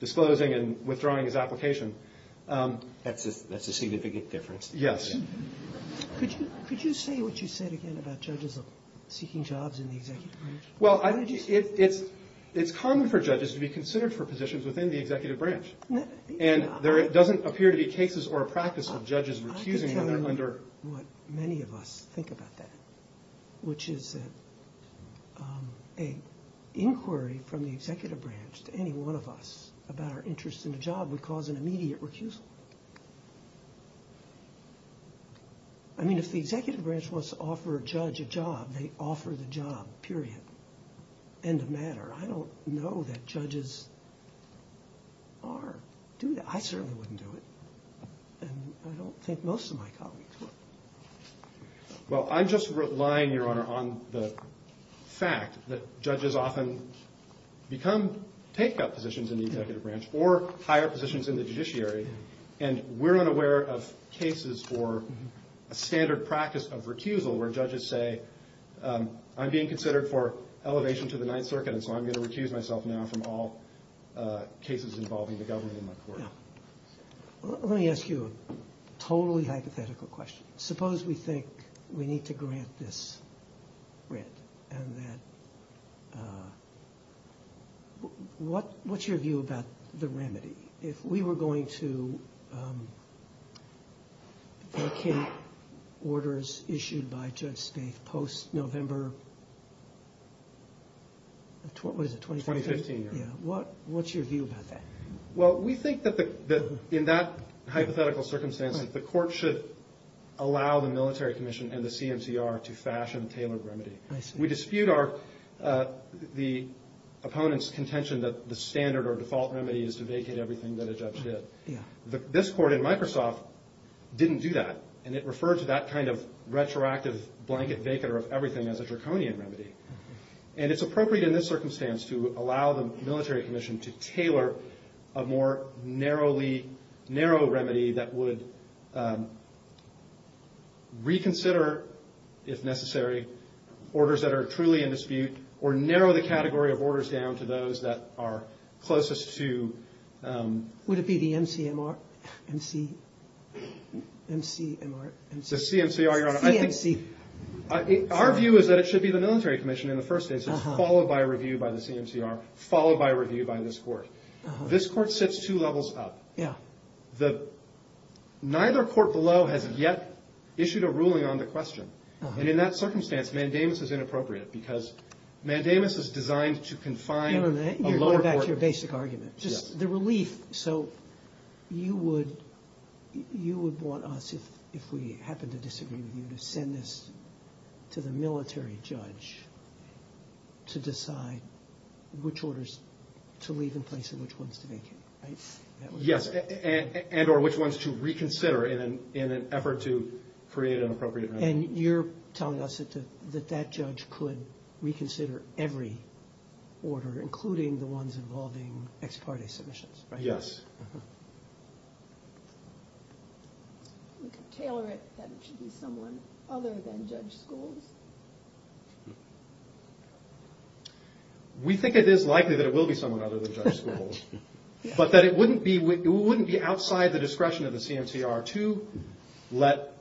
disclosing and withdrawing his application. That's a significant difference. Yes. Could you say what you said again about judges seeking jobs in the executive branch? Well, it's common for judges to be considered for positions within the executive branch. And there doesn't appear to be cases or a practice of judges recusing when they're under... I can tell you what many of us think about that, which is that an inquiry from the executive branch to any one of us about our interest in a job would cause an immediate recusal. I mean, if the executive branch wants to offer a judge a job, they offer the job, period. End of matter. I don't know that judges do that. I certainly wouldn't do it. And I don't think most of my colleagues would. Well, I'm just relying, Your Honor, on the fact that judges often become take-up positions in the executive branch or higher positions in the judiciary. And we're unaware of cases for a standard practice of recusal where judges say, I'm being considered for elevation to the Ninth Circuit, and so I'm going to recuse myself now from all cases involving the government in my court. Yeah. Let me ask you a totally hypothetical question. Suppose we think we need to grant this grant, and that... What's your view about the remedy? If we were going to... vacate orders issued by Judge Smith post-November... What is it, 2015? 2015, Your Honor. What's your view about that? Well, we think that in that hypothetical circumstance, that the court should allow the military commission and the CMCR to fashion a tailored remedy. I see. We dispute the opponent's contention that the standard or default remedy is to vacate everything that a judge did. Yeah. This court in Microsoft didn't do that, and it referred to that kind of retroactive blanket vacater of everything as a draconian remedy. And it's appropriate in this circumstance to allow the military commission to tailor a more narrow remedy that would reconsider, if necessary, orders that are truly in dispute or narrow the category of orders down to those that are closest to... Would it be the MCMR... MC... MCMR... The CMCR, Your Honor. CMC. Our view is that it should be the military commission in the first instance, followed by a review by the CMCR, followed by a review by this court. This court sits two levels up. Yeah. Neither court below has yet issued a ruling on the question. And in that circumstance, mandamus is inappropriate because mandamus is designed to confine a lower court... You're going back to your basic argument. Just the relief. So you would want us, if we happen to disagree with you, to send this to the military judge to decide which orders to leave in place and which ones to vacate, right? Yes, and or which ones to reconsider in an effort to create an appropriate remedy. And you're telling us that that judge could reconsider every order, including the ones involving ex parte submissions, right? Yes. We could tailor it that it should be someone other than Judge Schools. We think it is likely that it will be someone other than Judge Schools, but that it wouldn't be outside the discretion of the CMCR to let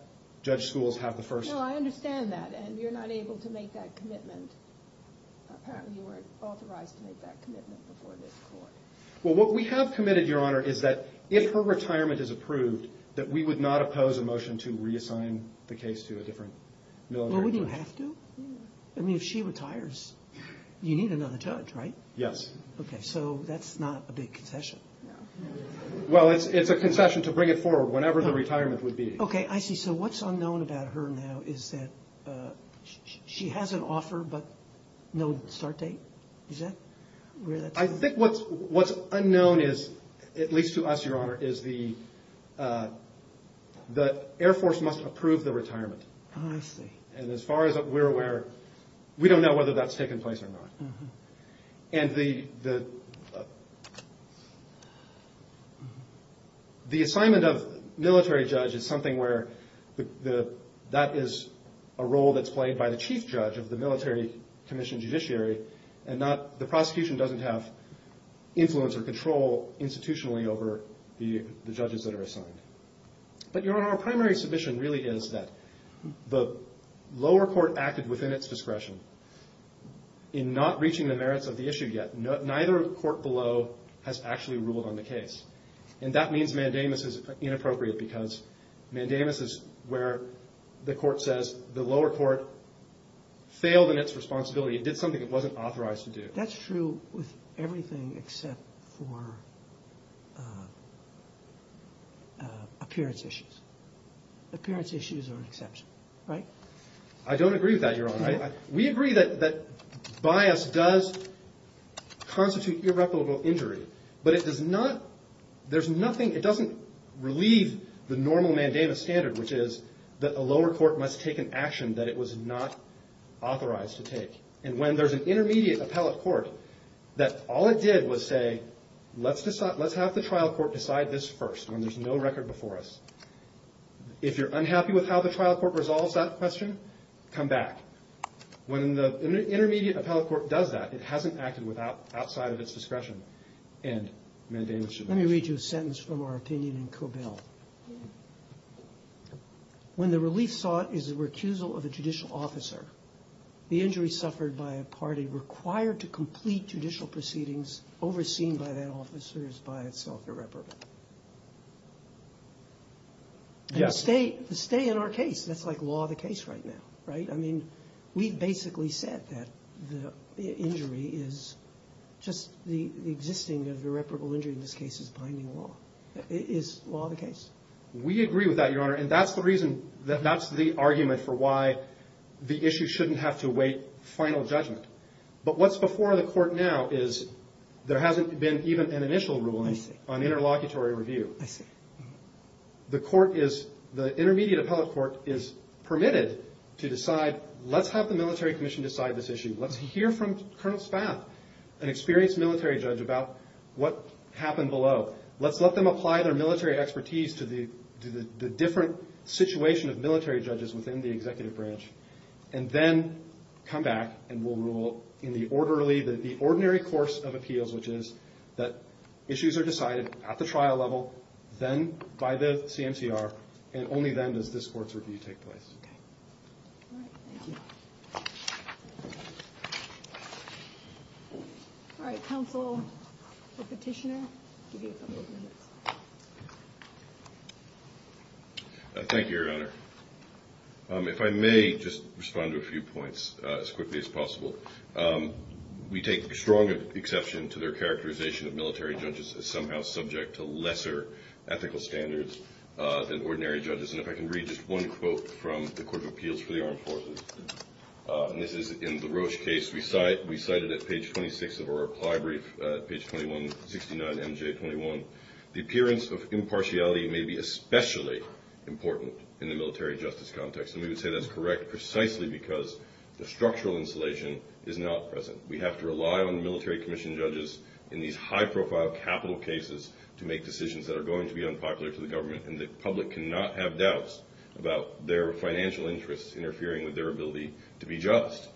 Judge Schools have the first... No, I understand that, and you're not able to make that commitment. Apparently you weren't authorized to make that commitment before this court. Well, what we have committed, Your Honor, is that if her retirement is approved, that we would not oppose a motion to reassign the case to a different military judge. Well, would you have to? I mean, if she retires, you need another judge, right? Yes. Okay, so that's not a big concession. No. Well, it's a concession to bring it forward whenever the retirement would be. Okay, I see. So what's unknown about her now is that she has an offer but no start date? Is that where that's at? I think what's unknown is, at least to us, Your Honor, is the Air Force must approve the retirement. I see. And as far as we're aware, we don't know whether that's taken place or not. And the assignment of military judge is something where that is a role that's played by the chief judge of the military commission judiciary, and the prosecution doesn't have influence or control institutionally over the judges that are assigned. But, Your Honor, our primary submission really is that the lower court acted within its discretion in not reaching the merits of the issue yet. Neither court below has actually ruled on the case. And that means mandamus is inappropriate because mandamus is where the court says the lower court failed in its responsibility. It did something it wasn't authorized to do. That's true with everything except for appearance issues. Appearance issues are an exception, right? I don't agree with that, Your Honor. We agree that bias does constitute irreparable injury, but it doesn't relieve the normal mandamus standard, which is that the lower court must take an action that it was not authorized to take. And when there's an intermediate appellate court that all it did was say, let's have the trial court decide this first when there's no record before us. If you're unhappy with how the trial court resolves that question, come back. When the intermediate appellate court does that, it hasn't acted outside of its discretion and mandamus should not. Let me read you a sentence from our opinion in Cobell. When the relief sought is a recusal of a judicial officer, the injury suffered by a party required to complete judicial proceedings is overseen by that officer is by itself irreparable. Yes. And to stay in our case, that's like law of the case right now, right? I mean, we've basically said that the injury is just the existing of irreparable injury in this case is binding law. It is law of the case. We agree with that, Your Honor, and that's the reason that that's the argument for why the issue shouldn't have to await final judgment. But what's before the court now is there hasn't been even an initial ruling on interlocutory review. I see. The court is, the intermediate appellate court is permitted to decide, let's have the military commission decide this issue. Let's hear from Colonel Spaff, an experienced military judge, about what happened below. Let's let them apply their military expertise to the different situation of military judges within the executive branch and then come back and we'll rule in the orderly, the ordinary course of appeals, which is that issues are decided at the trial level, then by the CMCR, and only then does this court's review take place. All right, thank you. All right, counsel, the petitioner, give you a couple of minutes. Thank you, Your Honor. If I may, just respond to a few points as quickly as possible. We take strong exception to their characterization of military judges as somehow subject to lesser ethical standards than ordinary judges. And if I can read just one quote from the Court of Appeals for the Armed Forces, and this is in the Roche case we cited at page 26 of our reply brief, page 2169, M.J. 21. The appearance of impartiality may be especially important in the military justice context, and we would say that's correct precisely because the structural insulation is not present. We have to rely on military commission judges in these high-profile capital cases to make decisions that are going to be unpopular to the government, and the public cannot have doubts about their financial interests interfering with their ability to be just.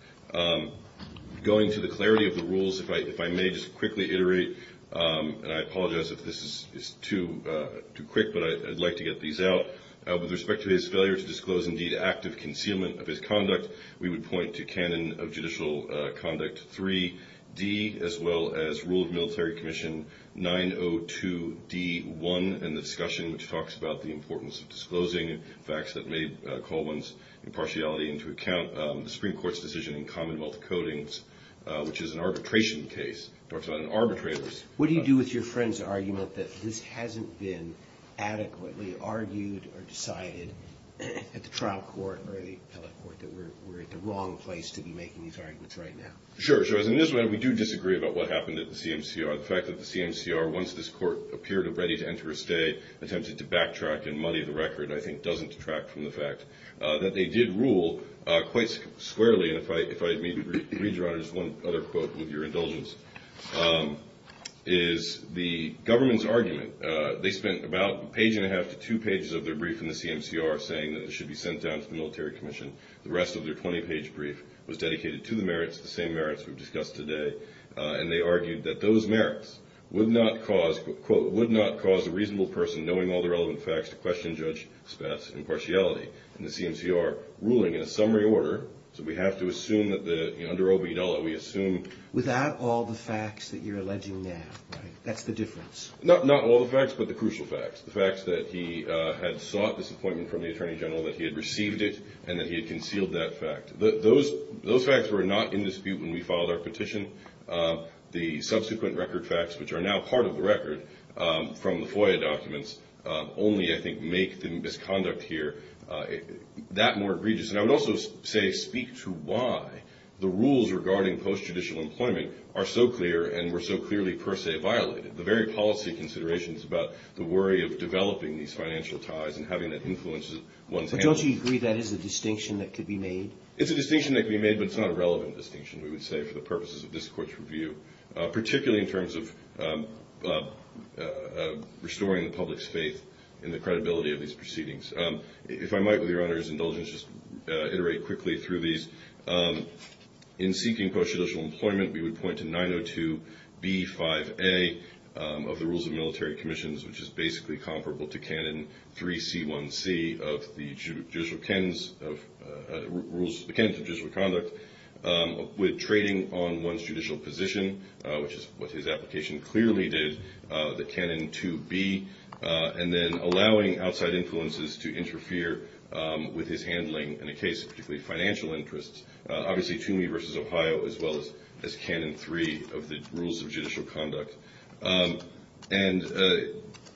Going to the clarity of the rules, if I may just quickly iterate, and I apologize if this is too quick, but I'd like to get these out. With respect to his failure to disclose, indeed, active concealment of his conduct, we would point to Canon of Judicial Conduct 3D as well as Rule of Military Commission 902D1 and the discussion which talks about the importance of disclosing facts that may call one's impartiality into account. The Supreme Court's decision in Commonwealth Codings, which is an arbitration case, talks about arbitrators. What do you do with your friend's argument that this hasn't been adequately argued or decided at the trial court or the appellate court, that we're at the wrong place to be making these arguments right now? Sure, sure. In this way, we do disagree about what happened at the CMCR. The fact that the CMCR, once this court appeared ready to enter a stay, attempted to backtrack and muddy the record I think doesn't detract from the fact that they did rule quite squarely. Again, if I may read you, Your Honor, just one other quote with your indulgence. The government's argument, they spent about a page and a half to two pages of their brief in the CMCR saying that it should be sent down to the Military Commission. The rest of their 20-page brief was dedicated to the merits, the same merits we've discussed today, and they argued that those merits would not cause, quote, would not cause a reasonable person knowing all the relevant facts to question Judge Spath's impartiality. And the CMCR ruling in a summary order, so we have to assume that under OB Dolla, we assume... Without all the facts that you're alleging now, right? That's the difference. Not all the facts, but the crucial facts. The facts that he had sought this appointment from the Attorney General, that he had received it, and that he had concealed that fact. Those facts were not in dispute when we filed our petition. The subsequent record facts, which are now part of the record from the FOIA documents, only, I think, make the misconduct here that more egregious. And I would also say speak to why the rules regarding post-judicial employment are so clear and were so clearly per se violated. The very policy considerations about the worry of developing these financial ties and having that influence one's handling. But don't you agree that is a distinction that could be made? It's a distinction that could be made, but it's not a relevant distinction, we would say, for the purposes of this Court's review, particularly in terms of restoring the public's faith in the credibility of these proceedings. If I might, with Your Honor's indulgence, just iterate quickly through these. In seeking post-judicial employment, we would point to 902B5A of the Rules of Military Commissions, which is basically comparable to Canon 3C1C of the Judicial Canons of Judicial Conduct, with trading on one's judicial position, which is what his application clearly did, the Canon 2B, and then allowing outside influences to interfere with his handling in a case of particularly financial interests, obviously Toomey v. Ohio, as well as Canon 3 of the Rules of Judicial Conduct. And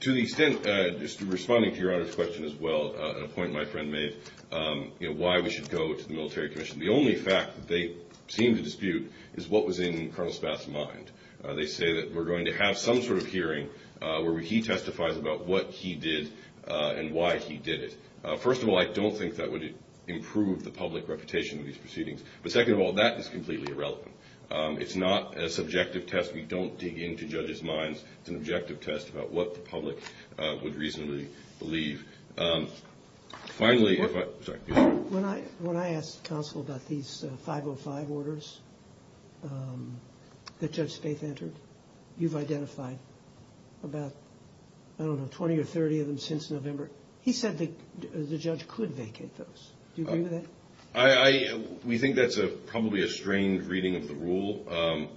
to the extent, just responding to Your Honor's question as well, a point my friend made, why we should go to the Military Commission. The only fact that they seem to dispute is what was in Colonel Spaff's mind. They say that we're going to have some sort of hearing where he testifies about what he did and why he did it. First of all, I don't think that would improve the public reputation of these proceedings. But second of all, that is completely irrelevant. It's not a subjective test. We don't dig into judges' minds. It's an objective test about what the public would reasonably believe. Finally, if I – sorry. When I asked counsel about these 505 orders that Judge Spaff entered, you've identified about, I don't know, 20 or 30 of them since November. He said the judge could vacate those. Do you agree with that? We think that's probably a strained reading of the rule.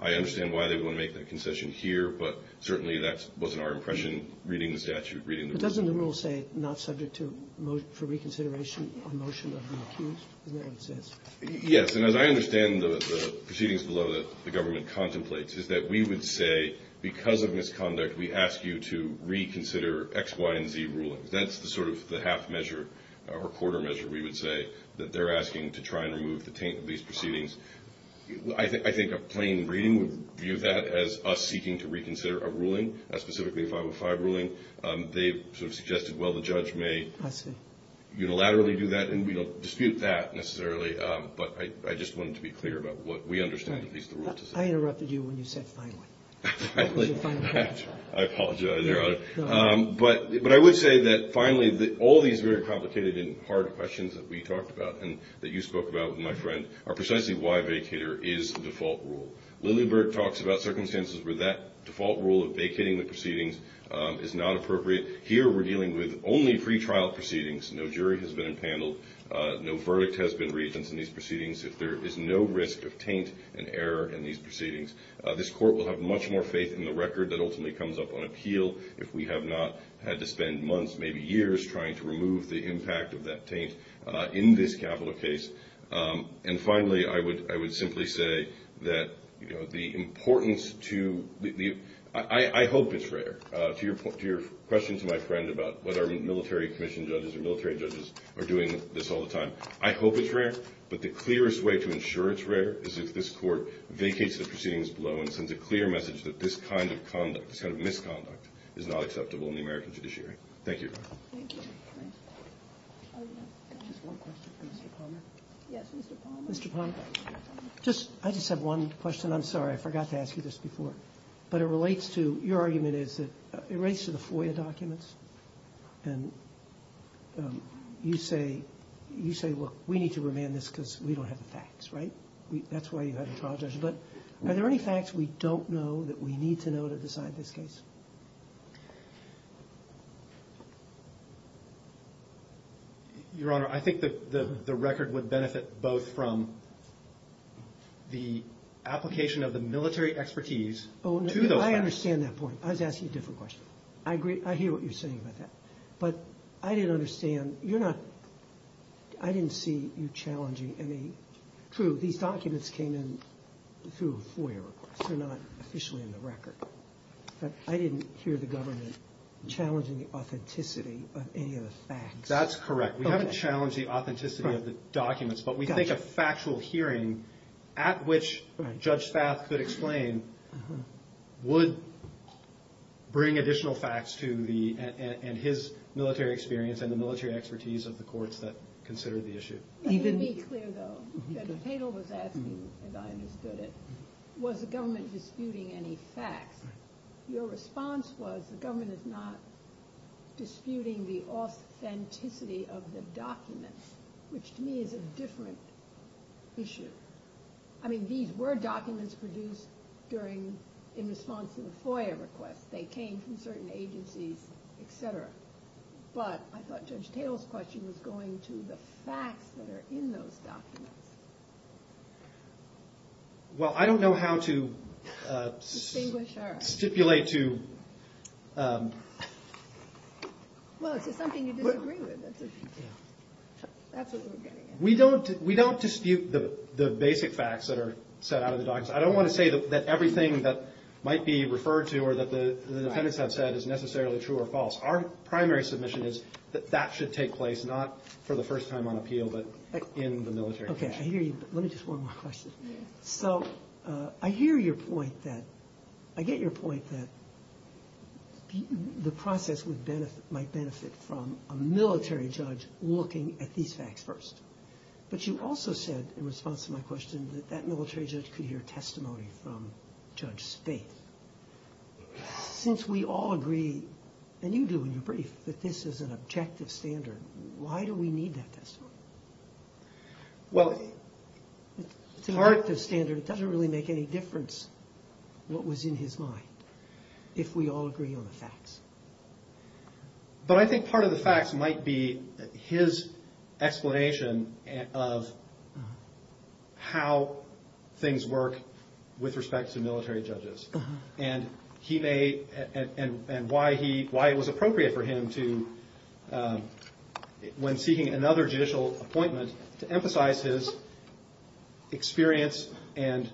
I understand why they would want to make that concession here, but certainly that wasn't our impression reading the statute, reading the rules. But doesn't the rule say not subject to – for reconsideration on motion of the accused? Isn't that what it says? Yes, and as I understand the proceedings below that the government contemplates, is that we would say because of misconduct we ask you to reconsider X, Y, and Z rulings. That's the sort of the half measure or quarter measure, we would say, that they're asking to try and remove the taint of these proceedings. I think a plain reading would view that as us seeking to reconsider a ruling, specifically a 505 ruling. They sort of suggested, well, the judge may unilaterally do that, and we don't dispute that necessarily, but I just wanted to be clear about what we understand at least the rule to say. I interrupted you when you said finally. Finally. I apologize, Your Honor. But I would say that finally all these very complicated and hard questions that we talked about and that you spoke about with my friend are precisely why vacater is the default rule. Lilleberg talks about circumstances where that default rule of vacating the proceedings is not appropriate. Here we're dealing with only pretrial proceedings. No jury has been impaneled. No verdict has been reached in these proceedings. There is no risk of taint and error in these proceedings. This court will have much more faith in the record that ultimately comes up on appeal if we have not had to spend months, maybe years, trying to remove the impact of that taint in this capital case. And finally, I would simply say that the importance to the – I hope it's rare to your question to my friend about whether military commission judges or military judges are doing this all the time. I hope it's rare, but the clearest way to ensure it's rare is if this court vacates the proceedings below and sends a clear message that this kind of conduct, this kind of misconduct, is not acceptable in the American judiciary. Thank you. Thank you. Just one question for Mr. Palmer. Yes, Mr. Palmer. Mr. Palmer, just – I just have one question. I'm sorry, I forgot to ask you this before, but it relates to – your argument is that it relates to the FOIA documents, and you say, look, we need to remand this because we don't have the facts, right? That's why you have a trial judge. But are there any facts we don't know that we need to know to decide this case? Your Honor, I think the record would benefit both from the application of the military expertise to those facts. I understand that point. I was asking a different question. I hear what you're saying about that. But I didn't understand – you're not – I didn't see you challenging any – True, these documents came in through a FOIA request. They're not officially in the record. But I didn't hear the government challenging the authenticity of any of the facts. That's correct. We haven't challenged the authenticity of the documents, but we think a factual hearing at which Judge Spath could explain would bring additional facts to the – and his military experience and the military expertise of the courts that consider the issue. Let me be clear, though. Judge Tatel was asking, and I understood it, was the government disputing any facts? Your response was the government is not disputing the authenticity of the documents, which to me is a different issue. I mean, these were documents produced during – in response to the FOIA request. They came from certain agencies, et cetera. But I thought Judge Tatel's question was going to the facts that are in those documents. Well, I don't know how to stipulate to – Well, it's just something you disagree with. That's what we're getting at. We don't dispute the basic facts that are set out in the documents. I don't want to say that everything that might be referred to or that the defendants have said is necessarily true or false. Our primary submission is that that should take place, not for the first time on appeal, but in the military case. Okay, I hear you, but let me just – one more question. So I hear your point that – I get your point that the process might benefit from a military judge looking at these facts first. But you also said, in response to my question, that that military judge could hear testimony from Judge Spaeth. Since we all agree, and you do in your brief, that this is an objective standard, why do we need that testimony? It's an objective standard. It doesn't really make any difference what was in his mind if we all agree on the facts. But I think part of the facts might be his explanation of how things work with respect to military judges and why it was appropriate for him, when seeking another judicial appointment, to emphasize his experience and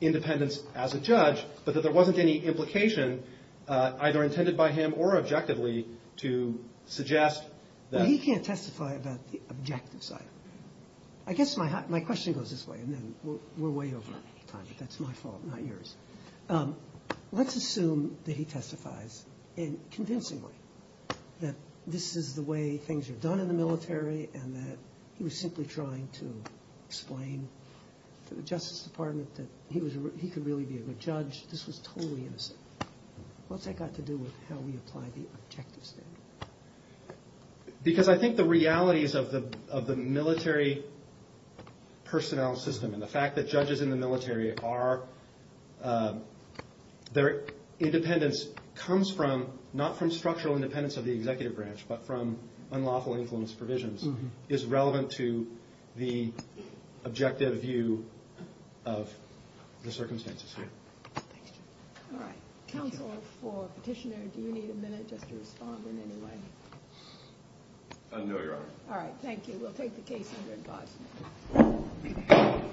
independence as a judge, but that there wasn't any implication either intended by him or objectively to suggest that – Well, he can't testify about the objective side. I guess my question goes this way, and then we're way over time, but that's my fault, not yours. Let's assume that he testifies convincingly that this is the way things are done in the military and that he was simply trying to explain to the Justice Department that he could really be a good judge if this was totally innocent. What's that got to do with how we apply the objective standard? Because I think the realities of the military personnel system and the fact that judges in the military are – their independence comes from, not from structural independence of the executive branch, but from unlawful influence provisions is relevant to the objective view of the circumstances here. All right. Counsel for Petitioner, do you need a minute just to respond in any way? No, Your Honor. All right. Thank you. We'll take the case under advisement.